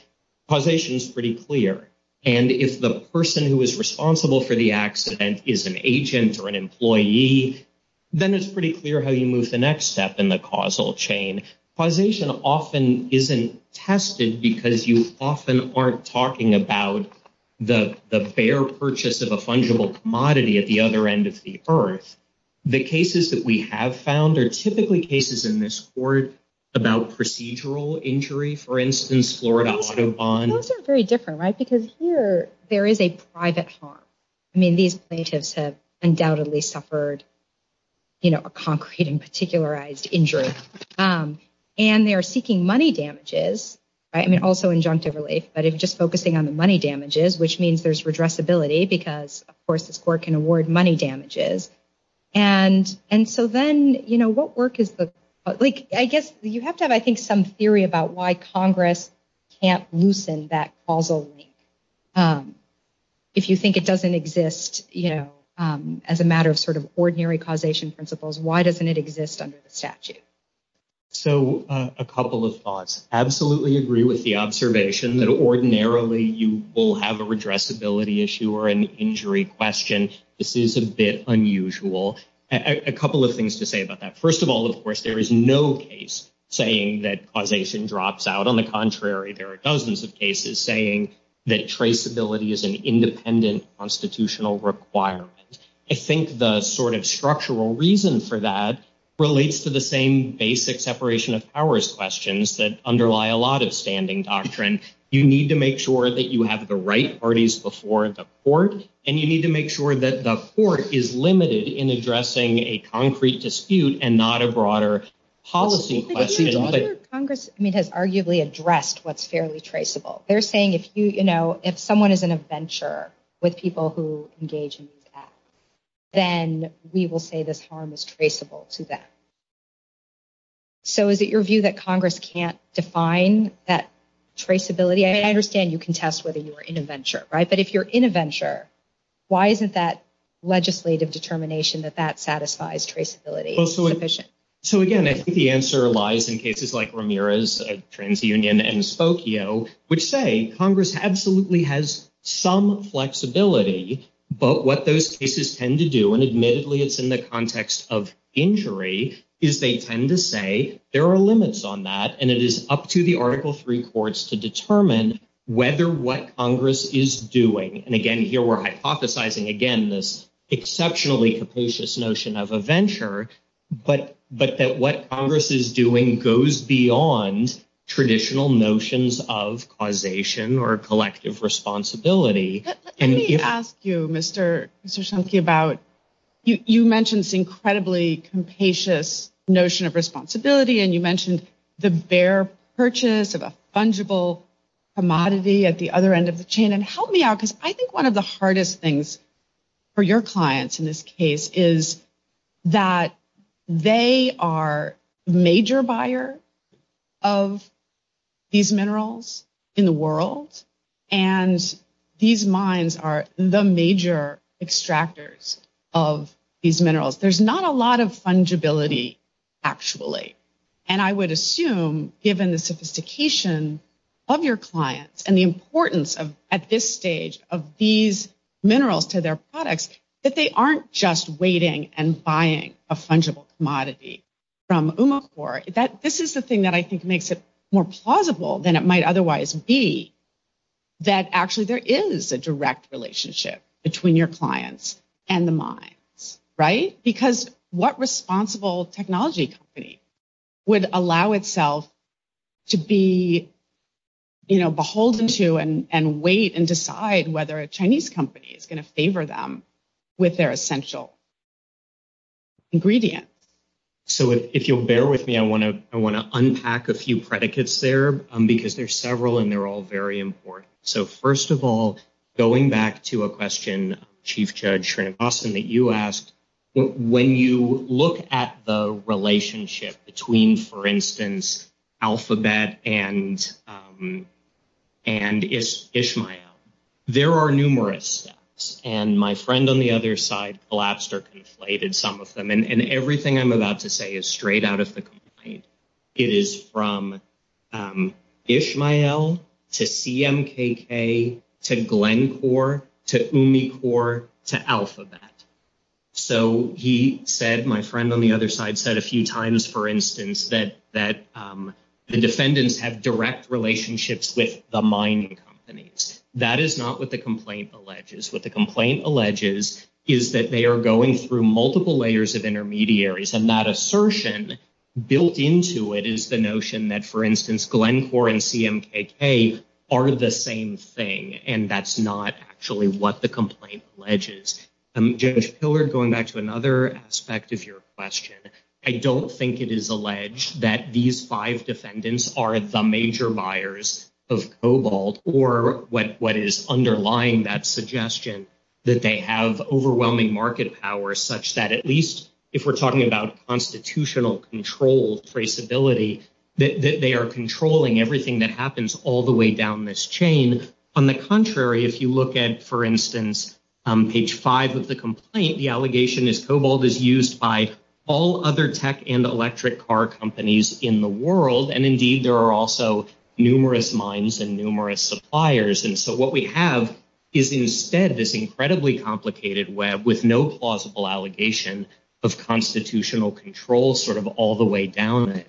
causation is pretty clear. And if the person who is responsible for the accident is an agent or an employee, then it's pretty clear how you move the next step in the causal chain. Causation often isn't tested because you often aren't talking about the fair purchase of a fungible commodity at the other end of the earth. The cases that we have found are typically cases in this court about procedural injury, for instance, Florida auto bond. It wasn't very different, right, because here there is a private harm. I mean, these plaintiffs have undoubtedly suffered a concrete and particularized injury. And they are seeking money damages. I mean, also injunctive relief. But it's just focusing on the money damages, which means there's redressability because, of course, this court can award money damages. And so then, you know, what work is the, like, I guess you have to have, I think, some theory about why Congress can't loosen that causal link. If you think it doesn't exist, you know, as a matter of sort of ordinary causation principles, why doesn't it exist under the statute? So a couple of thoughts. Absolutely agree with the observation that ordinarily you will have a redressability issue or an injury question. This is a bit unusual. A couple of things to say about that. First of all, of course, there is no case saying that causation drops out. On the contrary, there are dozens of cases saying that traceability is an independent constitutional requirement. I think the sort of structural reason for that relates to the same basic separation of powers questions that underlie a lot of standing doctrine. You need to make sure that you have the right parties before the court. And you need to make sure that the court is limited in addressing a concrete dispute and not a broader policy question. Congress has arguably addressed what's fairly traceable. They're saying if you, you know, if someone is an adventurer with people who engage in that, then we will say this harm is traceable to them. So is it your view that Congress can't define that traceability? I understand you can test whether you are in a venture, right? But if you're in a venture, why isn't that legislative determination that that satisfies traceability sufficient? So, again, I think the answer lies in cases like Ramirez, TransUnion and Spokio, which say Congress absolutely has some flexibility. But what those cases tend to do, and admittedly it's in the context of injury, is they tend to say there are limits on that. And it is up to the articles reports to determine whether what Congress is doing. And again, here we're hypothesizing, again, this exceptionally capacious notion of a venture. But that what Congress is doing goes beyond traditional notions of causation or collective responsibility. Let me ask you, Mr. Shumke, about you mentioned the incredibly capacious notion of responsibility. And you mentioned the bare purchase of a fungible commodity at the other end of the chain. And help me out, because I think one of the hardest things for your clients in this case is that they are major buyer of these minerals in the world. And these mines are the major extractors of these minerals. There's not a lot of fungibility, actually. And I would assume, given the sophistication of your clients and the importance at this stage of these minerals to their products, that they aren't just waiting and buying a fungible commodity from UMACOR. This is the thing that I think makes it more plausible than it might otherwise be that actually there is a direct relationship between your clients and the mines. Right? Because what responsible technology company would allow itself to be beholden to and wait and decide whether a Chinese company is going to favor them with their essential ingredient? So if you'll bear with me, I want to unpack a few predicates there, because there's several and they're all very important. So first of all, going back to a question, Chief Judge Srinivasan, that you asked, when you look at the relationship between, for instance, Alphabet and Ishmael, there are numerous steps. And my friend on the other side, Blaster, conflated some of them. And everything I'm about to say is straight out of the complaint. It is from Ishmael to CMKK to Glencore to UMACOR to Alphabet. So he said, my friend on the other side, said a few times, for instance, that the defendants have direct relationships with the mining companies. That is not what the complaint alleges. What the complaint alleges is that they are going through multiple layers of intermediaries. And that assertion built into it is the notion that, for instance, Glencore and CMKK are the same thing. And that's not actually what the complaint alleges. Judge Pillard, going back to another aspect of your question, I don't think it is alleged that these five defendants are the major buyers of Cobalt, or what is underlying that suggestion, that they have overwhelming market power, such that at least if we're talking about constitutional control traceability, that they are controlling everything that happens all the way down this chain. And on the contrary, if you look at, for instance, page five of the complaint, the allegation is Cobalt is used by all other tech and electric car companies in the world. And indeed, there are also numerous mines and numerous suppliers. And so what we have is instead this incredibly complicated web with no plausible allegation of constitutional control sort of all the way down.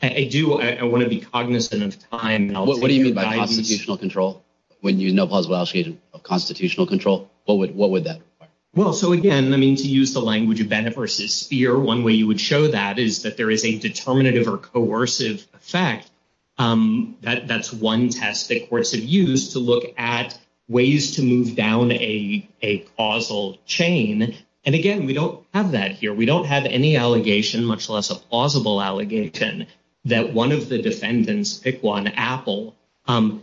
I do. I want to be cognizant of time. What do you mean by constitutional control when you have no plausible allegation of constitutional control? What would that look like? Well, so again, I mean, to use the language of Bennett versus Spear, one way you would show that is that there is a determinative or coercive effect. That's one test that courts have used to look at ways to move down a causal chain. And again, we don't have that here. We don't have any allegation, much less a plausible allegation that one of the defendants, pick one, Apple,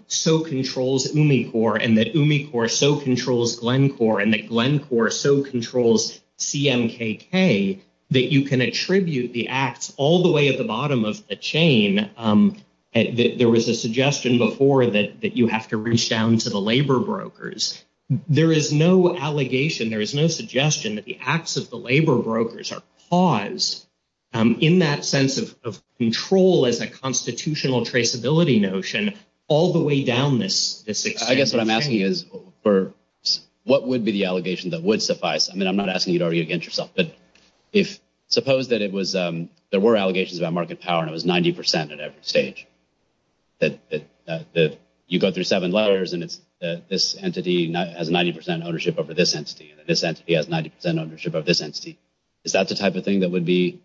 so controls me for and that me or so controls Glencore and Glencore. So controls CMKK that you can attribute the acts all the way at the bottom of the chain. There was a suggestion before that you have to reach down to the labor brokers. There is no allegation. There is no suggestion that the acts of the labor brokers are pause in that sense of control as a constitutional traceability notion all the way down this. I guess what I'm asking is for what would be the allegation that would suffice? I mean, I'm not asking you to argue against yourself, but if suppose that it was there were allegations about market power and it was 90 percent at every stage. That you go through seven letters and this entity has 90 percent ownership over this entity. This entity has 90 percent ownership of this entity. Is that the type of thing that would be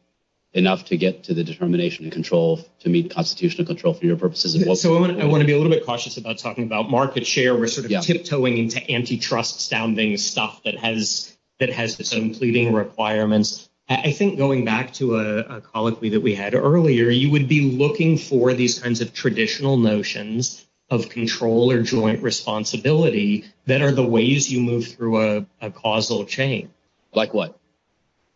enough to get to the determination and control to meet constitutional control for your purposes? So I want to be a little bit cautious about talking about market share. We're sort of tiptoeing into antitrust sounding stuff that has the same pleading requirements. I think going back to a colloquy that we had earlier, you would be looking for these kinds of traditional notions of control or joint responsibility that are the ways you move through a causal chain. Like what?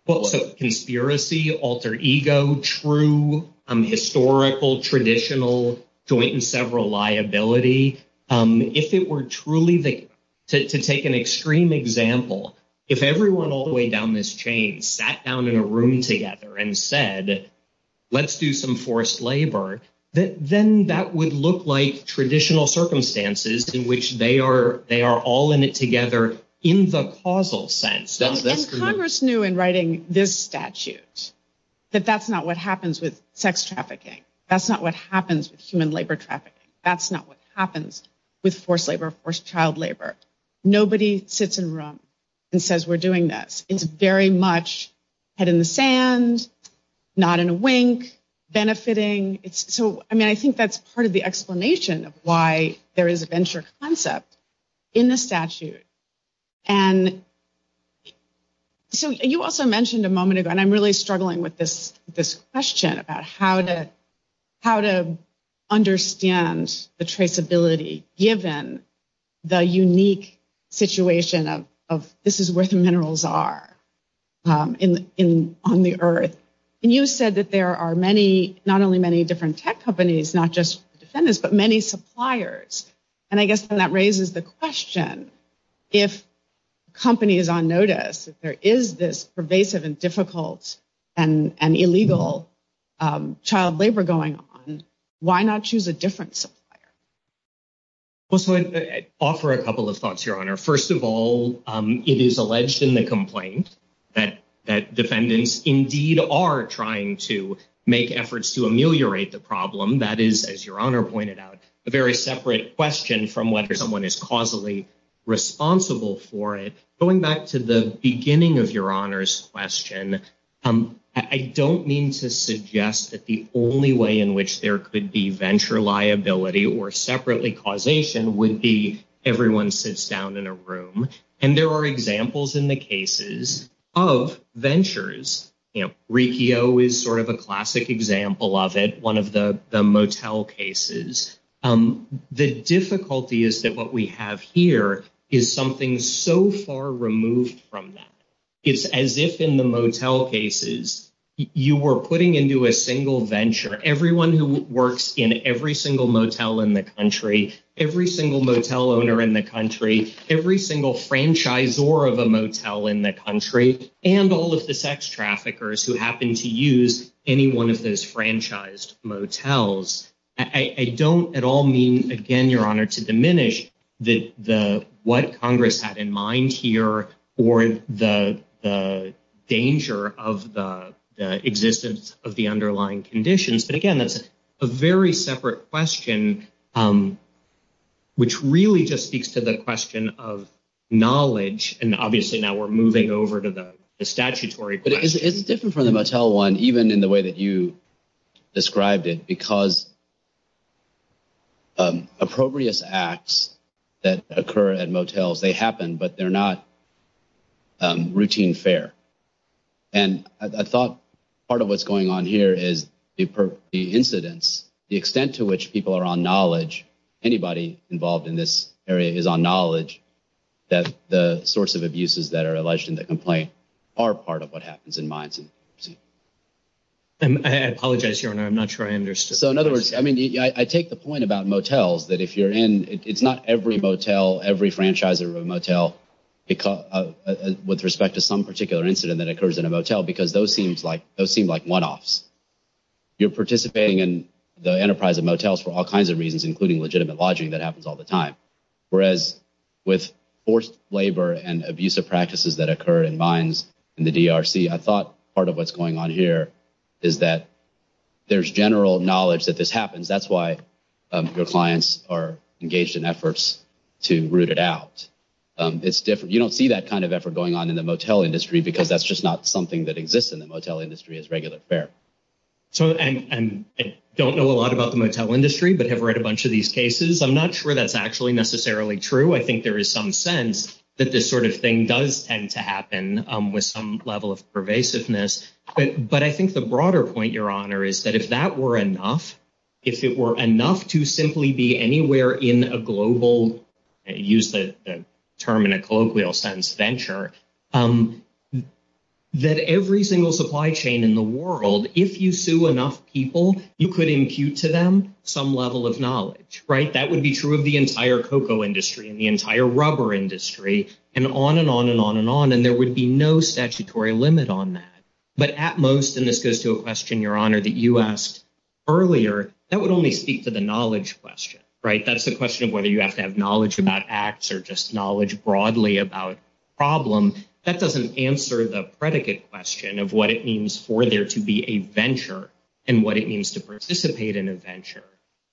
So conspiracy, alter ego, true, historical, traditional, joint and several liability. If it were truly to take an extreme example, if everyone all the way down this chain sat down in a room together and said, let's do some forced labor. Then that would look like traditional circumstances in which they are all in it together in the causal sense. And Congress knew in writing this statute that that's not what happens with sex trafficking. That's not what happens with human labor trafficking. That's not what happens with forced labor, forced child labor. Nobody sits in a room and says we're doing this. It's very much head in the sand, not in a wink, benefiting. I mean, I think that's part of the explanation of why there is a venture concept in the statute. And so you also mentioned a moment ago, and I'm really struggling with this question about how to understand the traceability given the unique situation of this is where the minerals are on the earth. And you said that there are many, not only many different tech companies, not just defendants, but many suppliers. And I guess that raises the question, if companies on notice, if there is this pervasive and difficult and illegal child labor going on, why not choose a different supplier? Well, so I'd offer a couple of thoughts, Your Honor. First of all, it is alleged in the complaint that defendants indeed are trying to make efforts to ameliorate the problem. That is, as Your Honor pointed out, a very separate question from whether someone is causally responsible for it. Going back to the beginning of Your Honor's question, I don't mean to suggest that the only way in which there could be venture liability or separately causation would be everyone sits down in a room. And there are examples in the cases of ventures. You know, Riccio is sort of a classic example of it, one of the motel cases. The difficulty is that what we have here is something so far removed from that. It's as if in the motel cases, you were putting into a single venture everyone who works in every single motel in the country, every single motel owner in the country, every single franchisor of a motel in the country, and all of the sex traffickers who happen to use any one of those franchised motels. I don't at all mean, again, Your Honor, to diminish what Congress had in mind here or the danger of the existence of the underlying conditions. But again, that's a very separate question, which really just speaks to the question of knowledge. And obviously now we're moving over to the statutory question. It's different from the motel one, even in the way that you described it, because appropriate acts that occur at motels, they happen, but they're not routine fare. And I thought part of what's going on here is the incidents, the extent to which people are on knowledge, anybody involved in this area is on knowledge, that the source of abuses that are alleged in the complaint are part of what happens in my agency. I apologize, Your Honor. I'm not sure I understood. So in other words, I mean, I take the point about motels, that if you're in – it's not every motel, every franchisor of a motel, with respect to some particular incident that occurs in a motel, because those seem like one-offs. You're participating in the enterprise of motels for all kinds of reasons, including legitimate lodging. That happens all the time. Whereas with forced labor and abusive practices that occur in mines in the DRC, I thought part of what's going on here is that there's general knowledge that this happens. That's why your clients are engaged in efforts to root it out. You don't see that kind of effort going on in the motel industry, because that's just not something that exists in the motel industry as regular fare. So I don't know a lot about the motel industry, but I've read a bunch of these cases. I'm not sure that's actually necessarily true. I think there is some sense that this sort of thing does tend to happen with some level of pervasiveness. But I think the broader point, Your Honor, is that if that were enough, if it were enough to simply be anywhere in a global – use the term in a colloquial sense, venture, that every single supply chain in the world, if you sue enough people, you could impute to them some level of knowledge. That would be true of the entire cocoa industry and the entire rubber industry and on and on and on and on. And there would be no statutory limit on that. But at most – and this goes to a question, Your Honor, that you asked earlier – that would only speak to the knowledge question. That's the question of whether you have to have knowledge about acts or just knowledge broadly about problems. That doesn't answer the predicate question of what it means for there to be a venture and what it means to participate in a venture.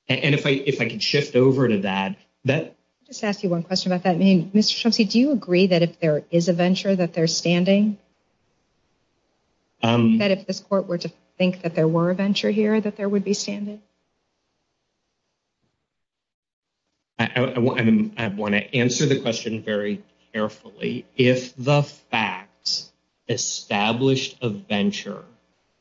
And if I could shift over to that. Let me just ask you one question about that. Mr. Schultze, do you agree that if there is a venture, that there's standing? That if this court were to think that there were a venture here, that there would be standing? I want to answer the question very carefully. If the facts establish a venture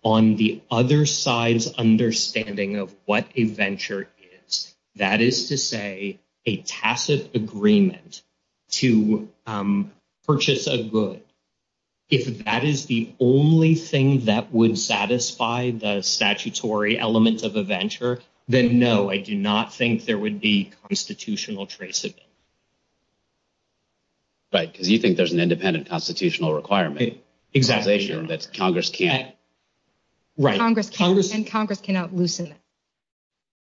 on the other side's understanding of what a venture is, that is to say, a passive agreement to purchase a good. If that is the only thing that would satisfy the statutory element of a venture, then no, I do not think there would be constitutional traceability. Right, because you think there's an independent constitutional requirement. Exactly. That Congress can't. Right. And Congress cannot loosen it.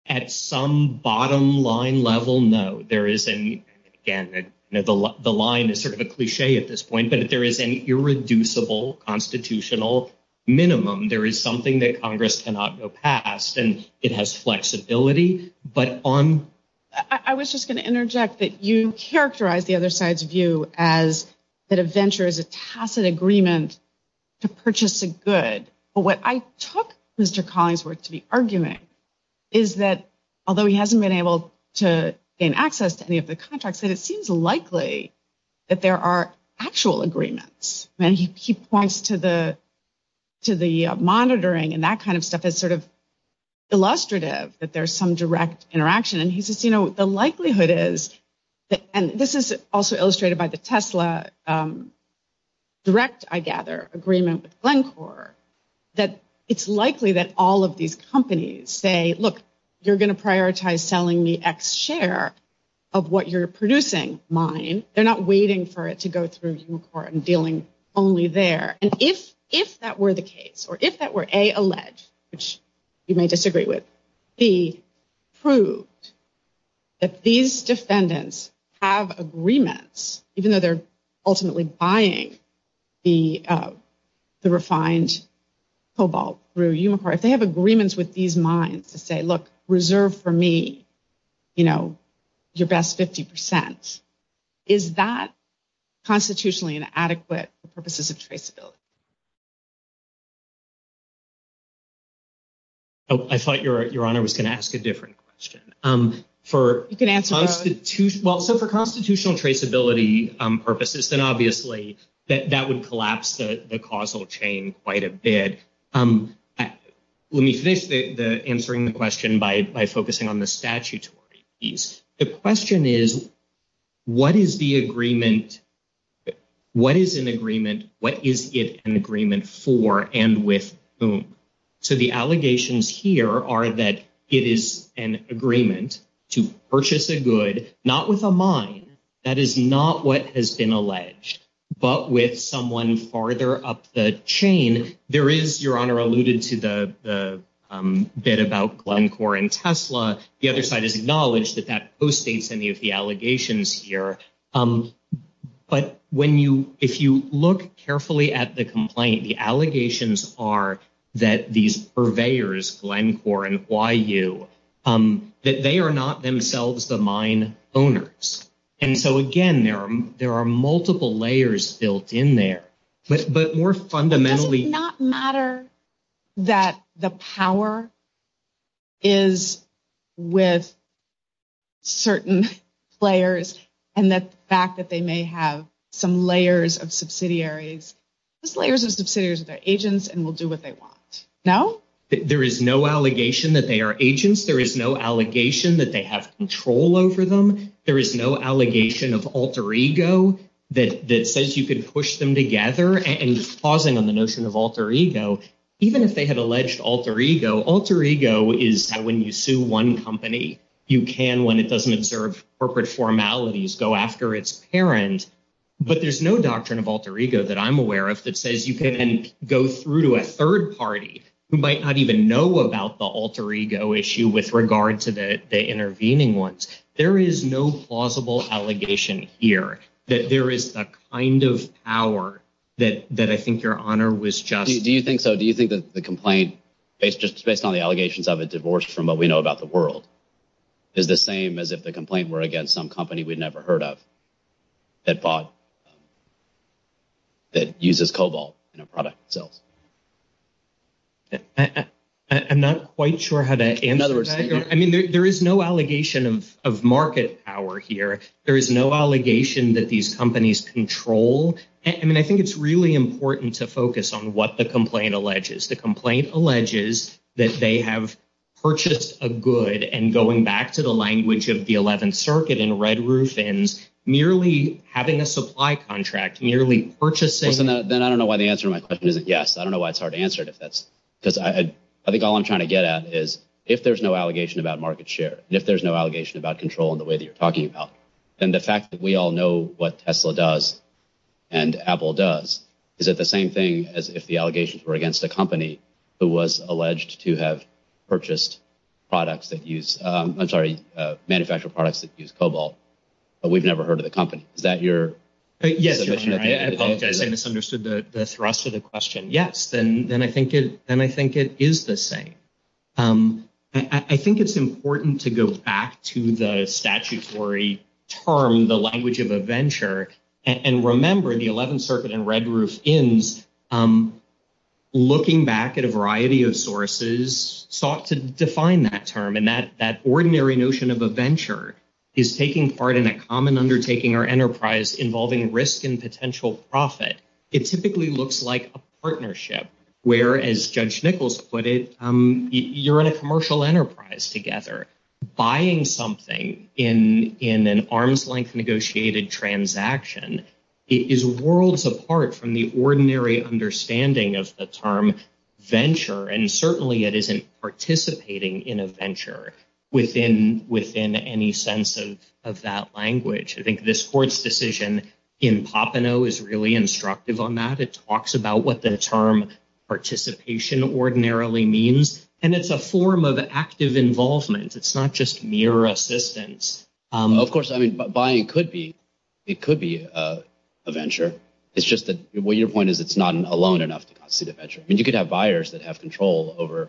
At some bottom line level, no. There is – again, the line is sort of a cliché at this point – but if there is an irreducible constitutional minimum, there is something that Congress cannot go past. And it has flexibility. I was just going to interject that you characterize the other side's view as that a venture is a passive agreement to purchase a good. But what I took Mr. Collingsworth to be arguing is that although he hasn't been able to gain access to any of the contracts, that it seems likely that there are actual agreements. And he points to the monitoring and that kind of stuff as sort of illustrative that there's some direct interaction. And he says, you know, the likelihood is – and this is also illustrated by the Tesla direct, I gather, agreement with Glencore – that it's likely that all of these companies say, look, you're going to prioritize selling me X share of what you're producing, mine. They're not waiting for it to go through Umacore and dealing only there. And if that were the case or if that were, A, alleged, which you may disagree with, B, proved that these defendants have agreements, even though they're ultimately buying the refined cobalt through Umacore, if they have agreements with these mines to say, look, reserve for me, you know, your best 50 percent, Is that constitutionally inadequate for purposes of traceability? I thought Your Honor was going to ask a different question. For constitutional traceability purposes, then obviously that would collapse the causal chain quite a bit. Let me fix the answering the question by focusing on the statutory piece. The question is, what is the agreement? What is an agreement? What is it an agreement for and with whom? So the allegations here are that it is an agreement to purchase a good, not with a mine. That is not what has been alleged. But with someone farther up the chain, there is, Your Honor alluded to the bit about Glencore and Tesla. The other side has acknowledged that that post states any of the allegations here. But when you if you look carefully at the complaint, the allegations are that these purveyors, Glencore and YU, that they are not themselves the mine owners. And so, again, there are there are multiple layers built in there. But more fundamentally. It does not matter that the power is with certain players and the fact that they may have some layers of subsidiaries. Those layers of subsidiaries are agents and will do what they want. No? There is no allegation that they are agents. There is no allegation that they have control over them. There is no allegation of alter ego that says you can push them together. And pausing on the notion of alter ego, even if they have alleged alter ego, alter ego is when you sue one company. You can when it doesn't observe corporate formalities, go after its parent. But there's no doctrine of alter ego that I'm aware of that says you can go through to a third party who might not even know about the alter ego issue with regard to the intervening ones. There is no plausible allegation here that there is a kind of power that I think your honor was just— Do you think so? Do you think that the complaint, based on the allegations of a divorce from what we know about the world, is the same as if the complaint were against some company we'd never heard of that uses cobalt in a product? I'm not quite sure how to answer that. I mean, there is no allegation of market power here. There is no allegation that these companies control. I mean, I think it's really important to focus on what the complaint alleges. The complaint alleges that they have purchased a good and going back to the language of the 11th Circuit and red roof and merely having a supply contract, merely purchasing— Then I don't know why the answer to my question is yes. I don't know why it's hard to answer it if that's—because I think all I'm trying to get at is if there's no allegation about market share, if there's no allegation about control in the way that you're talking about, then the fact that we all know what Tesla does and Apple does, is it the same thing as if the allegations were against a company who was alleged to have purchased products that use—I'm sorry, manufactured products that use cobalt, but we've never heard of the company? Is that your— I misunderstood the thrust of the question. Yes, then I think it is the same. I think it's important to go back to the statutory term, the language of a venture, and remember the 11th Circuit and red roof ends, looking back at a variety of sources, has sought to define that term and that ordinary notion of a venture is taking part in a common undertaking or enterprise involving risk and potential profit. It typically looks like a partnership where, as Judge Nichols put it, you're in a commercial enterprise together. Buying something in an arm's length negotiated transaction is worlds apart from the ordinary understanding of the term venture, and certainly it isn't participating in a venture within any sense of that language. I think this court's decision in Papano is really instructive on that. It talks about what the term participation ordinarily means, and it's a form of active involvement. It's not just mere assistance. Of course, I mean, buying could be—it could be a venture. It's just that—well, your point is it's not alone enough to constitute a venture. I mean, you could have buyers that have control over a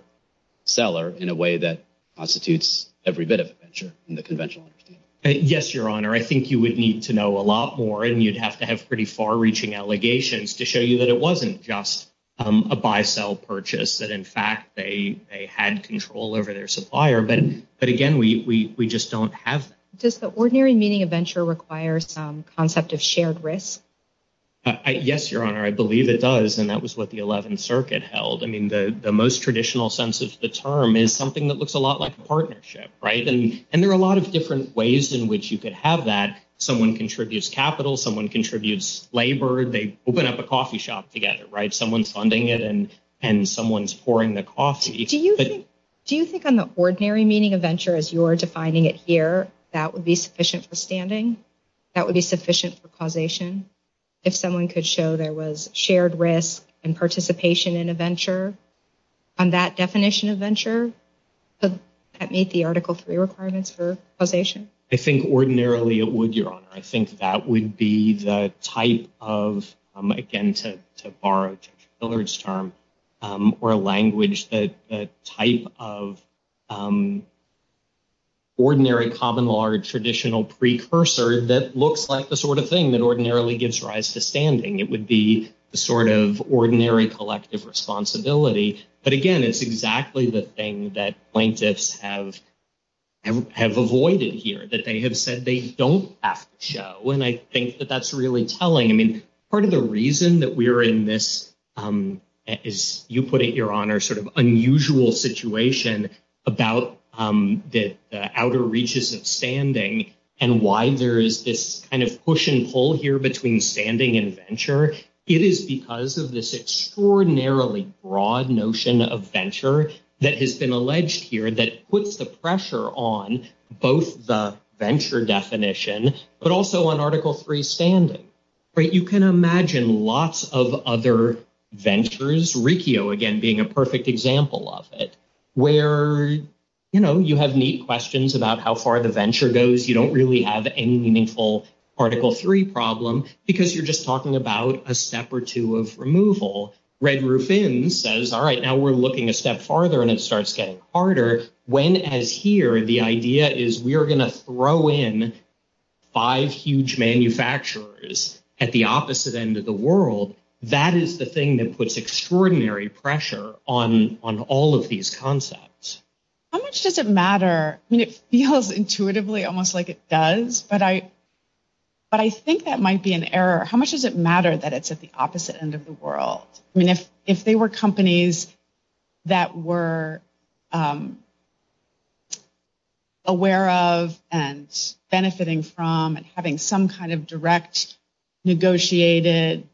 seller in a way that constitutes every bit of a venture in the conventional understanding. Yes, Your Honor. I think you would need to know a lot more, and you'd have to have pretty far-reaching allegations to show you that it wasn't just a buy-sell purchase, that, in fact, they had control over their supplier. But, again, we just don't have that. Does the ordinary meaning of venture require some concept of shared risk? Yes, Your Honor. I believe it does, and that was what the Eleventh Circuit held. I mean, the most traditional sense of the term is something that looks a lot like a partnership, right? And there are a lot of different ways in which you could have that. Someone contributes capital. Someone contributes labor. They open up a coffee shop together, right? Someone's funding it, and someone's pouring the coffee. Do you think on the ordinary meaning of venture, as you're defining it here, that would be sufficient for standing? That would be sufficient for causation? If someone could show there was shared risk and participation in a venture, on that definition of venture, would that meet the Article III requirements for causation? I think ordinarily it would, Your Honor. I think that would be the type of, again, to borrow Taylor's term, or language, the type of ordinary common law or traditional precursor that looks like the sort of thing that ordinarily gives rise to standing. It would be the sort of ordinary collective responsibility. But again, it's exactly the thing that plaintiffs have avoided here, that they have said they don't have to show. And I think that that's really telling. I mean, part of the reason that we're in this, as you put it, Your Honor, sort of unusual situation about the outer reaches of standing and why there is this kind of push and pull here between standing and venture, it is because of this extraordinarily broad notion of venture that has been alleged here that puts the pressure on both the venture definition, but also on Article III standing. You can imagine lots of other ventures, Riccio again being a perfect example of it, where, you know, you have neat questions about how far the venture goes. You don't really have any meaningful Article III problem because you're just talking about a step or two of removal. Red Roof Inn says, all right, now we're looking a step farther and it starts getting harder. When, as here, the idea is we are going to throw in five huge manufacturers at the opposite end of the world, that is the thing that puts extraordinary pressure on all of these concepts. How much does it matter? I mean, it feels intuitively almost like it does, but I think that might be an error. How much does it matter that it's at the opposite end of the world? I mean, if they were companies that were aware of and benefiting from and having some kind of direct negotiated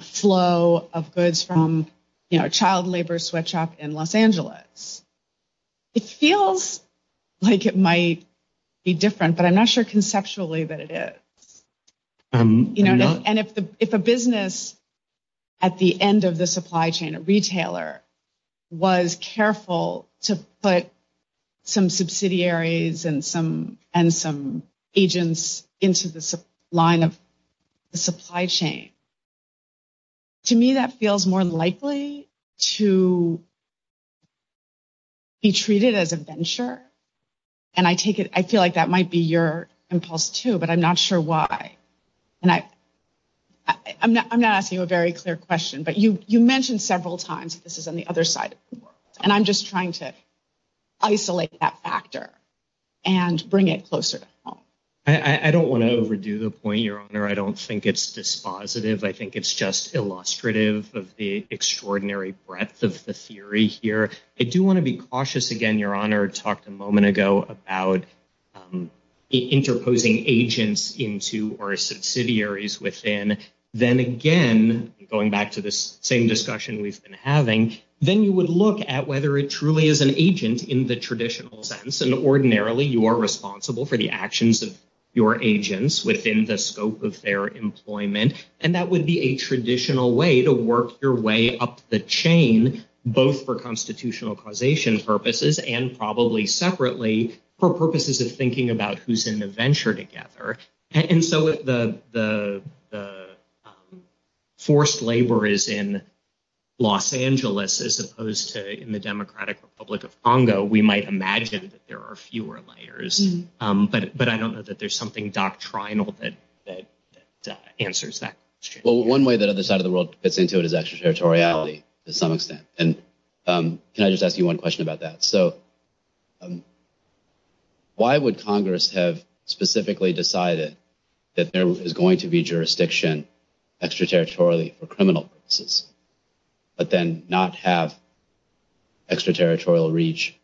flow of goods from, you know, a child labor sweatshop in Los Angeles, it feels like it might be different, but I'm not sure conceptually that it is. And if a business at the end of the supply chain, a retailer, was careful to put some subsidiaries and some agents into the line of the supply chain, to me that feels more likely to be treated as a venture. And I feel like that might be your impulse too, but I'm not sure why. And I'm not asking you a very clear question, but you mentioned several times this is on the other side of the world. And I'm just trying to isolate that factor and bring it closer to home. I don't want to overdo the point, Your Honor. I don't think it's dispositive. I think it's just illustrative of the extraordinary breadth of the theory here. I do want to be cautious again, Your Honor, talked a moment ago about interposing agents into or subsidiaries within. Then again, going back to this same discussion we've been having, then you would look at whether it truly is an agent in the traditional sense. And ordinarily, you are responsible for the actions of your agents within the scope of their employment. And that would be a traditional way to work your way up the chain, both for constitutional causation purposes and probably separately for purposes of thinking about who's in the venture together. And so if the forced labor is in Los Angeles as opposed to the Democratic Republic of Congo, we might imagine that there are fewer layers. But I don't know that there's something doctrinal that answers that. Well, one way that other side of the world fits into it is extraterritoriality to some extent. And can I just ask you one question about that? So why would Congress have specifically decided that there is going to be jurisdiction extraterritorially for criminal purposes, but then not have extraterritorial reach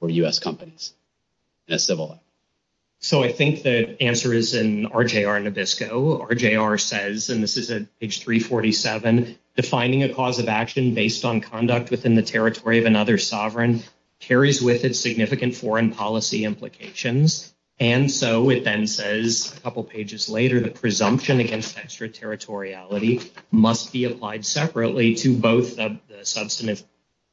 for U.S. companies? So I think the answer is in RJR Nabisco. RJR says, and this is at page 347, defining a cause of action based on conduct within the territory of another sovereign carries with it significant foreign policy implications. And so it then says a couple of pages later, the presumption against extraterritoriality must be applied separately to both of the substantive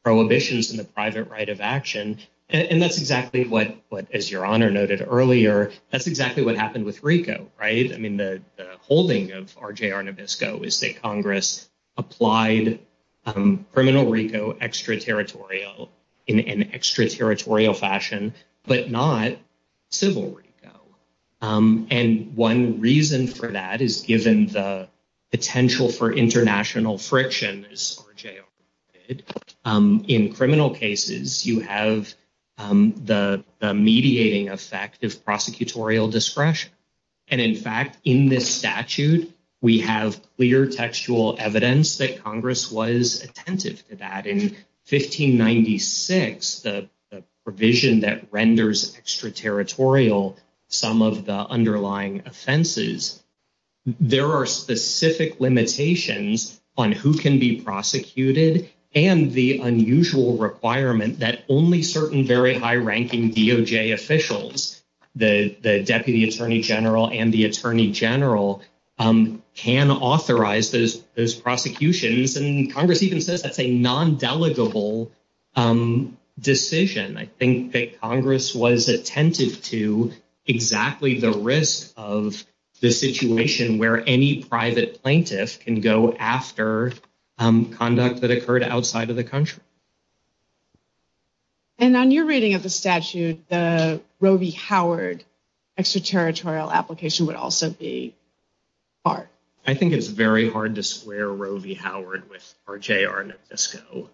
prohibitions in the private right of action. And that's exactly what, as Your Honor noted earlier, that's exactly what happened with RICO, right? I mean, the holding of RJR Nabisco is that Congress applied criminal RICO extraterritorial in an extraterritorial fashion, but not civil RICO. And one reason for that is given the potential for international friction in criminal cases, you have the mediating effect of prosecutorial discretion. And in fact, in this statute, we have clear textual evidence that Congress was attentive to that in 1596, the provision that renders extraterritorial some of the underlying offenses. There are specific limitations on who can be prosecuted and the unusual requirement that only certain very high ranking DOJ officials, the Deputy Attorney General and the Attorney General, can authorize those prosecutions. And Congress even says that's a non-delegable decision. I think that Congress was attentive to exactly the risk of the situation where any private plaintiff can go after conduct that occurred outside of the country. And on your reading of the statute, the Roe v. Howard extraterritorial application would also be part. I think it's very hard to square Roe v. Howard with RJR Nabisco.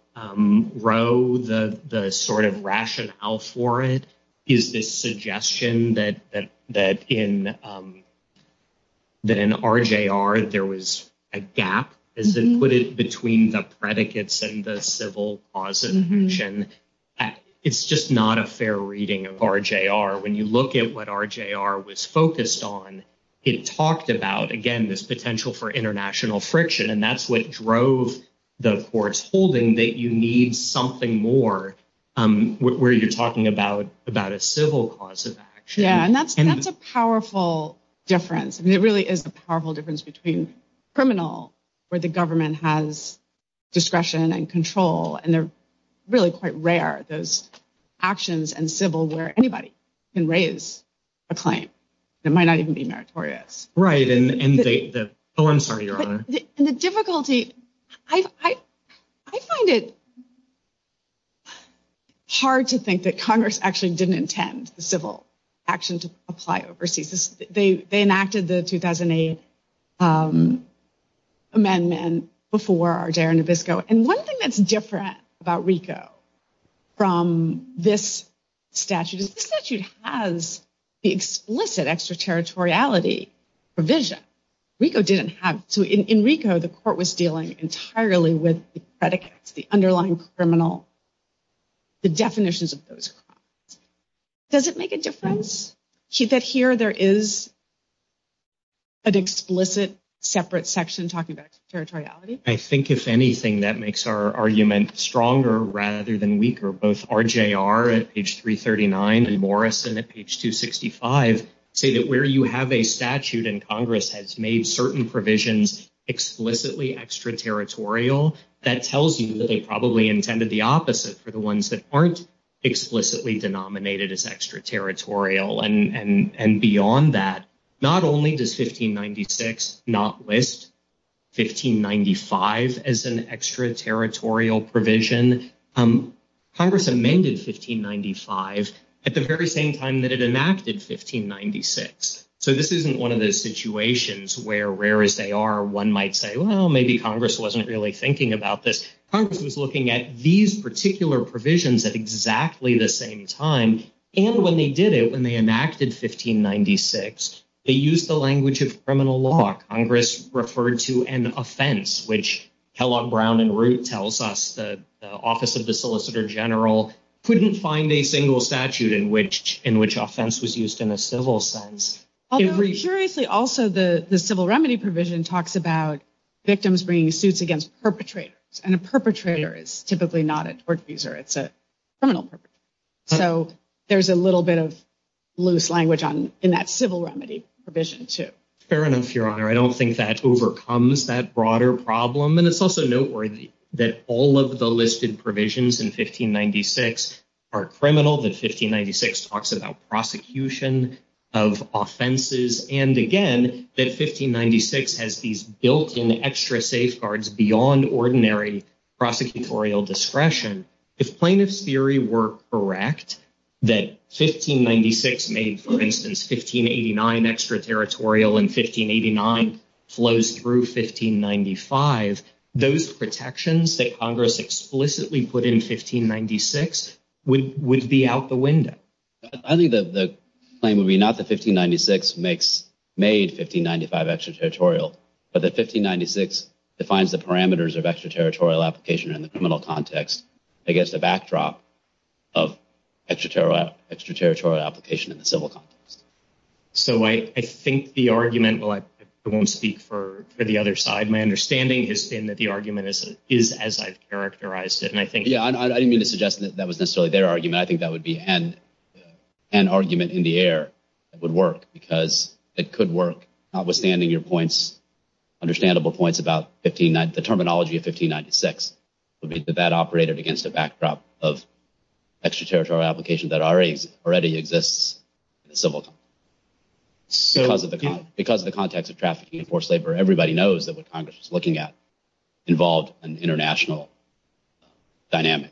Roe, the sort of rationale for it is this suggestion that in RJR there was a gap, as they put it, between the predicates and the civil prosecution. It's just not a fair reading of RJR. When you look at what RJR was focused on, it talked about, again, this potential for international friction. And that's what drove the court's holding that you need something more where you're talking about a civil cause of action. Yeah, and that's a powerful difference. It really is a powerful difference between criminal, where the government has discretion and control, and they're really quite rare, those actions and civil where anybody can raise a claim. It might not even be meritorious. Right. Oh, I'm sorry, Your Honor. I find it hard to think that Congress actually didn't intend the civil action to apply overseas. They enacted the 2008 amendment before RJR Nabisco. And one thing that's different about RICO from this statute is this statute has the explicit extraterritoriality provision. RICO didn't have to. In RICO, the court was dealing entirely with the predicates, the underlying criminal, the definitions of those crimes. Does it make a difference that here there is an explicit separate section talking about extraterritoriality? I think if anything, that makes our argument stronger rather than weaker. Both RJR at page 339 and Morrison at page 265 say that where you have a statute and Congress has made certain provisions explicitly extraterritorial, that tells you that they probably intended the opposite for the ones that aren't explicitly denominated as extraterritorial. And beyond that, not only does 1596 not list 1595 as an extraterritorial provision, Congress amended 1595 at the very same time that it enacted 1596. So this isn't one of those situations where, rare as they are, one might say, well, maybe Congress wasn't really thinking about this. Congress was looking at these particular provisions at exactly the same time. And when they did it, when they enacted 1596, they used the language of criminal law. Congress referred to an offense, which Kellogg, Brown, and Root tells us the Office of the Solicitor General couldn't find a single statute in which offense was used in a civil sense. Also, the civil remedy provision talks about victims bringing suits against perpetrators. And a perpetrator is typically not a tort user. It's a criminal perpetrator. So there's a little bit of loose language in that civil remedy provision, too. Fair enough, Your Honor. I don't think that overcomes that broader problem. It's also noteworthy that all of the listed provisions in 1596 are criminal, that 1596 talks about prosecution of offenses, and again, that 1596 has these built-in extra safeguards beyond ordinary prosecutorial discretion. If plaintiffs' theory were correct that 1596 made, for instance, 1589 extraterritorial and 1589 flows through 1595, those protections that Congress explicitly put in 1596 would be out the window. I think the claim would be not that 1596 made 1595 extraterritorial, but that 1596 defines the parameters of extraterritorial application in the criminal context against the backdrop of extraterritorial application in the civil context. So I think the argument – well, I won't speak for the other side. My understanding is that the argument is as I've characterized it. Yeah, I didn't mean to suggest that that was necessarily their argument. I think that would be a hand argument in the air that would work because it could work, notwithstanding your understandable points about the terminology of 1596. 1596 would be the bad operator against the backdrop of extraterritorial application that already exists in the civil context. Because of the context of trafficking and forced labor, everybody knows that what Congress is looking at involves an international dynamic.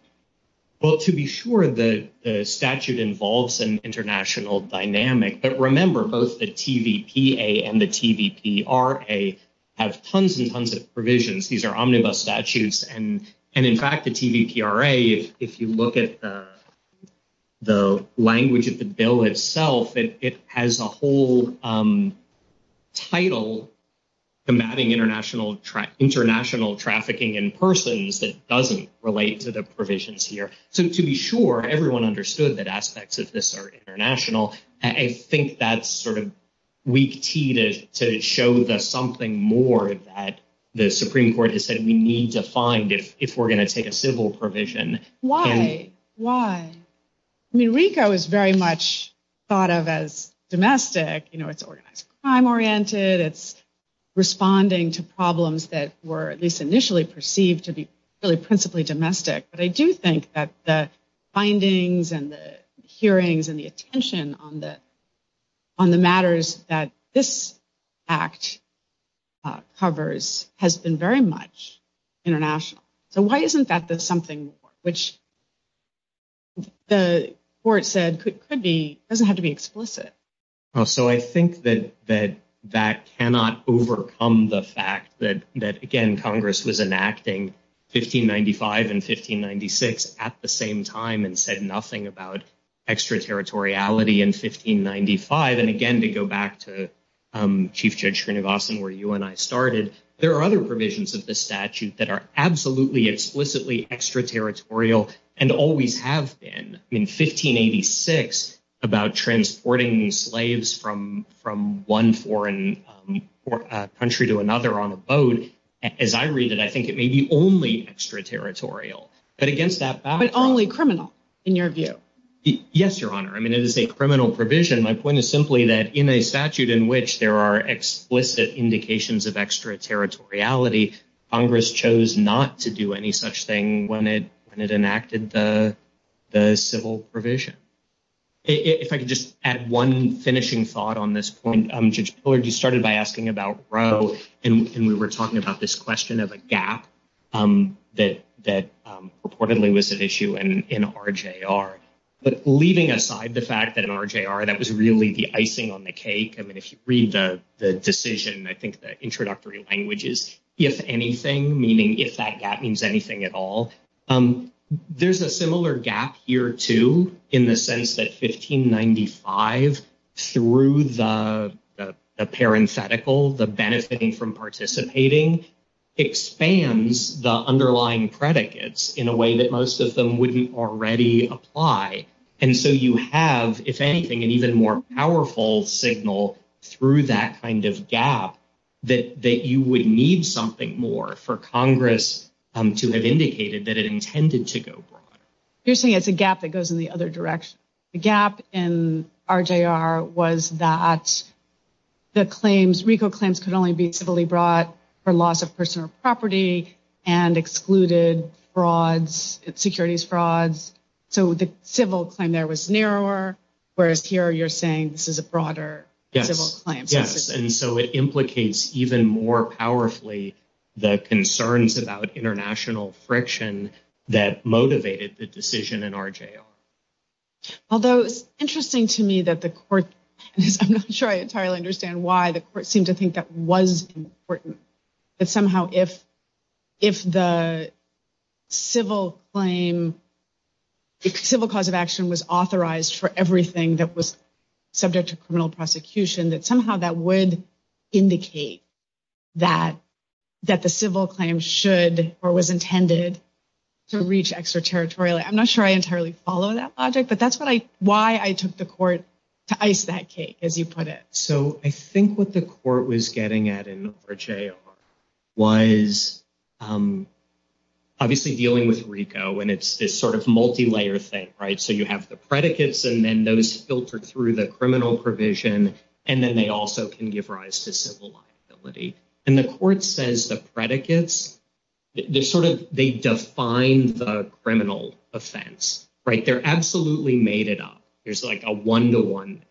Well, to be sure, the statute involves an international dynamic. But remember, both the TVPA and the TVPRA have tons and tons of provisions. These are omnibus statutes. And in fact, the TVPRA, if you look at the language of the bill itself, it has a whole title combating international trafficking in persons that doesn't relate to the provisions here. So to be sure, everyone understood that aspects of this are international. I think that's sort of weak key to show us something more that the Supreme Court has said we need to find if we're going to take a civil provision. Why? Why? I mean, RICO is very much thought of as domestic. You know, it's time-oriented. It's responding to problems that were at least initially perceived to be really principally domestic. But I do think that the findings and the hearings and the attention on the matters that this act covers has been very much international. So why isn't that something which the court said could be, doesn't have to be explicit? So I think that that cannot overcome the fact that, again, Congress was enacting 1595 and 1596 at the same time and said nothing about extraterritoriality in 1595. And again, we go back to Chief Judge Srinivasan where you and I started. There are other provisions of the statute that are absolutely explicitly extraterritorial and always have been in 1586 about transporting slaves from one foreign country to another on a boat. As I read it, I think it may be only extraterritorial. But against that background. But only criminal in your view. Yes, Your Honor. I mean, it is a criminal provision. My point is simply that in a statute in which there are explicit indications of extraterritoriality, Congress chose not to do any such thing when it enacted the civil provision. If I could just add one finishing thought on this point. Judge Pillard, you started by asking about Roe and we were talking about this question of a gap that reportedly was an issue in RJR. But leaving aside the fact that in RJR that was really the icing on the cake. I mean, if you read the decision, I think the introductory language is, if anything, meaning if that gap means anything at all. There's a similar gap here too in the sense that 1595 through the parenthetical, the benefiting from participating, expands the underlying predicates in a way that most of them wouldn't already apply. And so you have, if anything, an even more powerful signal through that kind of gap that you would need something more for Congress to have indicated that it intended to go abroad. Whereas here you're saying this is a broader civil claim. Yes, and so it implicates even more powerfully the concerns about international friction that motivated the decision in RJR. Although it's interesting to me that the court, I'm not sure I entirely understand why the court seemed to think that was important. But somehow if the civil claim, civil cause of action was authorized for everything that was subject to criminal prosecution, that somehow that would indicate that the civil claim should or was intended to reach extraterritorial. I'm not sure I entirely follow that logic, but that's why I took the court to ice that cake, as you put it. So I think what the court was getting at in RJR was obviously dealing with RICO, and it's this sort of multi-layer thing, right? So you have the predicates and then those filtered through the criminal provision, and then they also can give rise to civil liability. And the court says the predicates, they sort of, they define the criminal offense, right? They're absolutely made it up. There's like a one-to-one.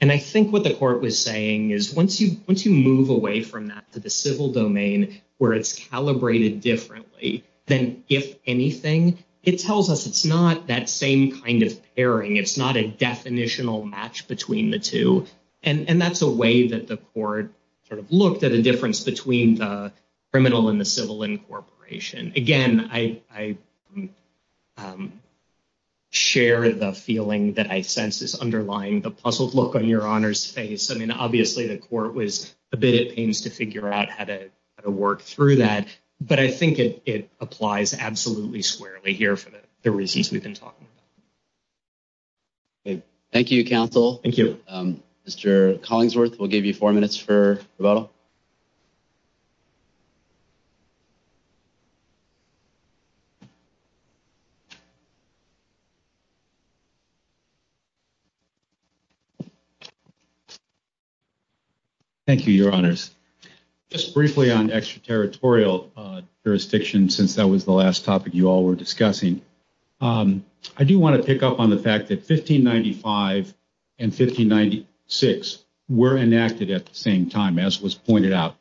And I think what the court was saying is once you move away from that to the civil domain where it's calibrated differently than if anything, it tells us it's not that same kind of pairing. It's not a definitional match between the two. And that's a way that the court sort of looked at a difference between the criminal and the civil incorporation. Again, I share the feeling that I sense is underlying the puzzled look on your Honor's face. I mean, obviously, the court was a bit at pains to figure out how to work through that. But I think it applies absolutely squarely here for the reasons we've been talking about. Thank you, counsel. Thank you. All right. Mr. Collingsworth, we'll give you four minutes for rebuttal. Thank you, Your Honors. Just briefly on extraterritorial jurisdiction since that was the last topic you all were discussing. I do want to pick up on the fact that 1595 and 1596 were enacted at the same time, as was pointed out.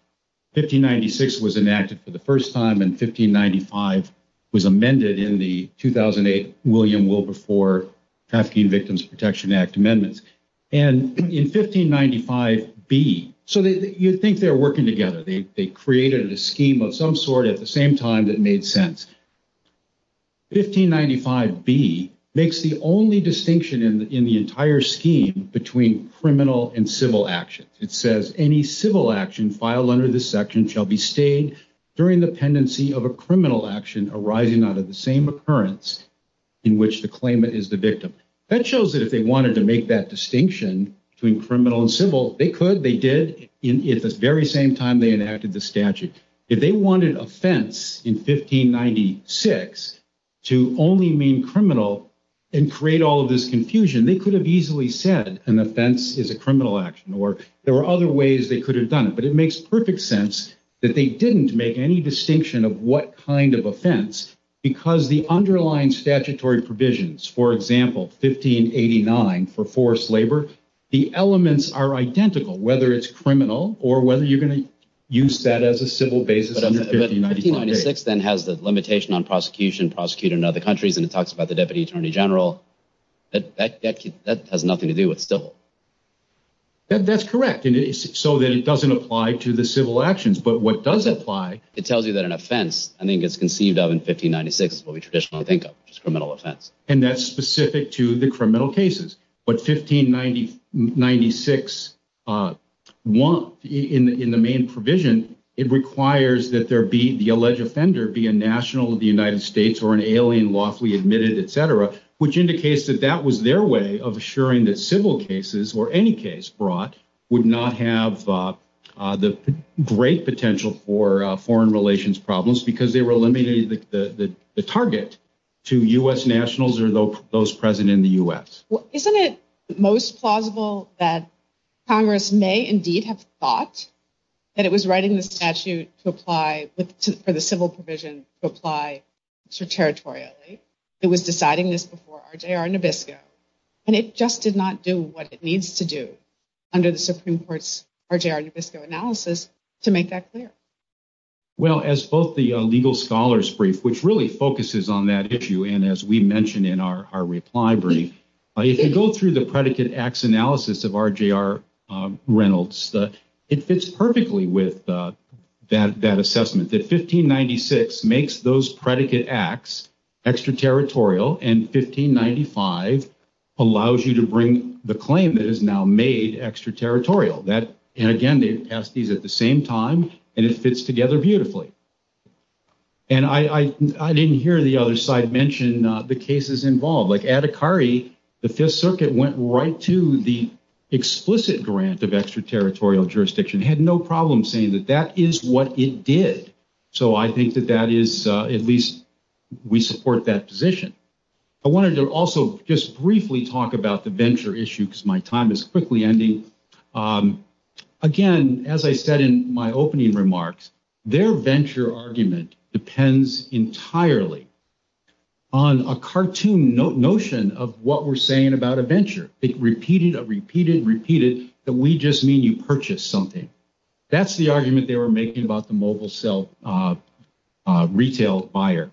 1596 was enacted for the first time, and 1595 was amended in the 2008 William Wilberforce Trafficking Victims Protection Act amendments. And in 1595B, so you'd think they were working together. They created a scheme of some sort at the same time that made sense. 1595B makes the only distinction in the entire scheme between criminal and civil actions. It says, any civil action filed under this section shall be stayed during the pendency of a criminal action arising out of the same occurrence in which the claimant is the victim. That shows that if they wanted to make that distinction between criminal and civil, they could. They did at the very same time they enacted the statute. If they wanted offense in 1596 to only mean criminal and create all of this confusion, they could have easily said an offense is a criminal action, or there were other ways they could have done it. But it makes perfect sense that they didn't make any distinction of what kind of offense because the underlying statutory provisions, for example, 1589 for forced labor, the elements are identical. Whether it's criminal or whether you're going to use that as a civil basis under 1596. But 1596 then has the limitation on prosecution, prosecutor in other countries, and it talks about the deputy attorney general. That has nothing to do with civil. That's correct. So then it doesn't apply to the civil actions. But what does apply, it tells you that an offense, I think it's conceived of in 1596, what we traditionally think of as a criminal offense. And that's specific to the criminal cases. But 1596 in the main provision, it requires that there be the alleged offender be a national of the United States or an alien lawfully admitted, et cetera, which indicates that that was their way of assuring that civil cases or any case brought would not have the great potential for foreign relations problems because they were eliminating the target to U.S. nationals or those present in the U.S. Isn't it most plausible that Congress may indeed have thought that it was right in the statute to apply for the civil provision to apply territorially? It was deciding this before RJR Nabisco. And it just did not do what it needs to do under the Supreme Court's RJR Nabisco analysis to make that clear. Well, as both the legal scholars brief, which really focuses on that issue and as we mentioned in our reply brief, if you go through the predicate acts analysis of RJR Reynolds, it fits perfectly with that assessment. That 1596 makes those predicate acts extraterritorial and 1595 allows you to bring the claim that is now made extraterritorial. And again, they passed these at the same time and it fits together beautifully. And I didn't hear the other side mention the cases involved. Like Adhikari, the Fifth Circuit went right to the explicit grant of extraterritorial jurisdiction, had no problem saying that that is what it did. So I think that that is at least we support that position. I wanted to also just briefly talk about the venture issue because my time is quickly ending. Again, as I said in my opening remarks, their venture argument depends entirely on a cartoon notion of what we're saying about a venture. It repeated, repeated, repeated that we just mean you purchased something. That's the argument they were making about the mobile cell retail buyer.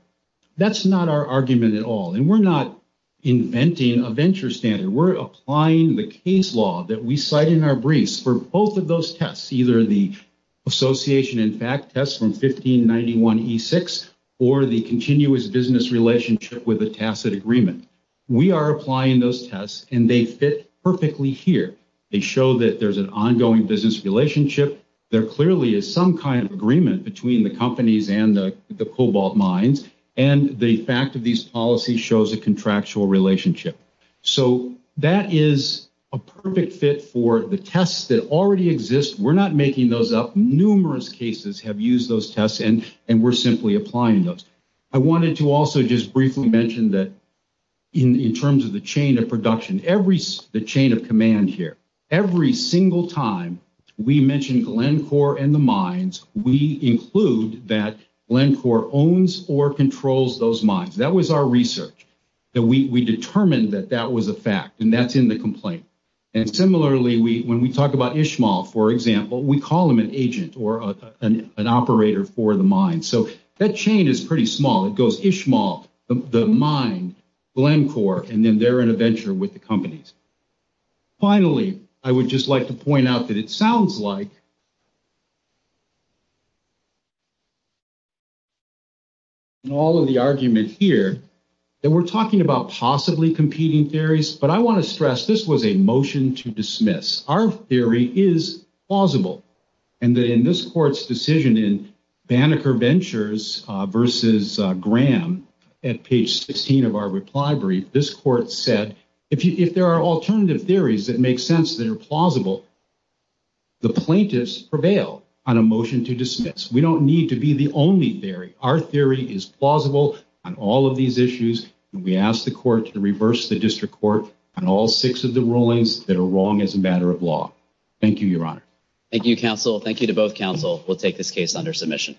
That's not our argument at all. And we're not inventing a venture standard. We're applying the case law that we cite in our briefs for both of those tests, either the association in fact test from 1591E6 or the continuous business relationship with a tacit agreement. We are applying those tests and they fit perfectly here. They show that there's an ongoing business relationship. There clearly is some kind of agreement between the companies and the cobalt mines. And the fact of these policies shows a contractual relationship. So that is a perfect fit for the tests that already exist. We're not making those up. Numerous cases have used those tests and we're simply applying those. I wanted to also just briefly mention that in terms of the chain of production, the chain of command here, every single time we mention Glencore and the mines, we include that Glencore owns or controls those mines. That was our research. We determined that that was a fact and that's in the complaint. And similarly, when we talk about Ishmael, for example, we call him an agent or an operator for the mine. So that chain is pretty small. It goes Ishmael, the mine, Glencore, and then they're in a venture with the companies. Finally, I would just like to point out that it sounds like in all of the argument here that we're talking about possibly competing theories. But I want to stress this was a motion to dismiss. Our theory is plausible. And in this court's decision in Banneker Ventures versus Graham, at page 16 of our reply brief, this court said if there are alternative theories that make sense that are plausible, the plaintiffs prevail on a motion to dismiss. We don't need to be the only theory. Our theory is plausible on all of these issues. We ask the court to reverse the district court on all six of the rulings that are wrong as a matter of law. Thank you, Your Honor. Thank you, counsel. Thank you to both counsel. We'll take this case under submission.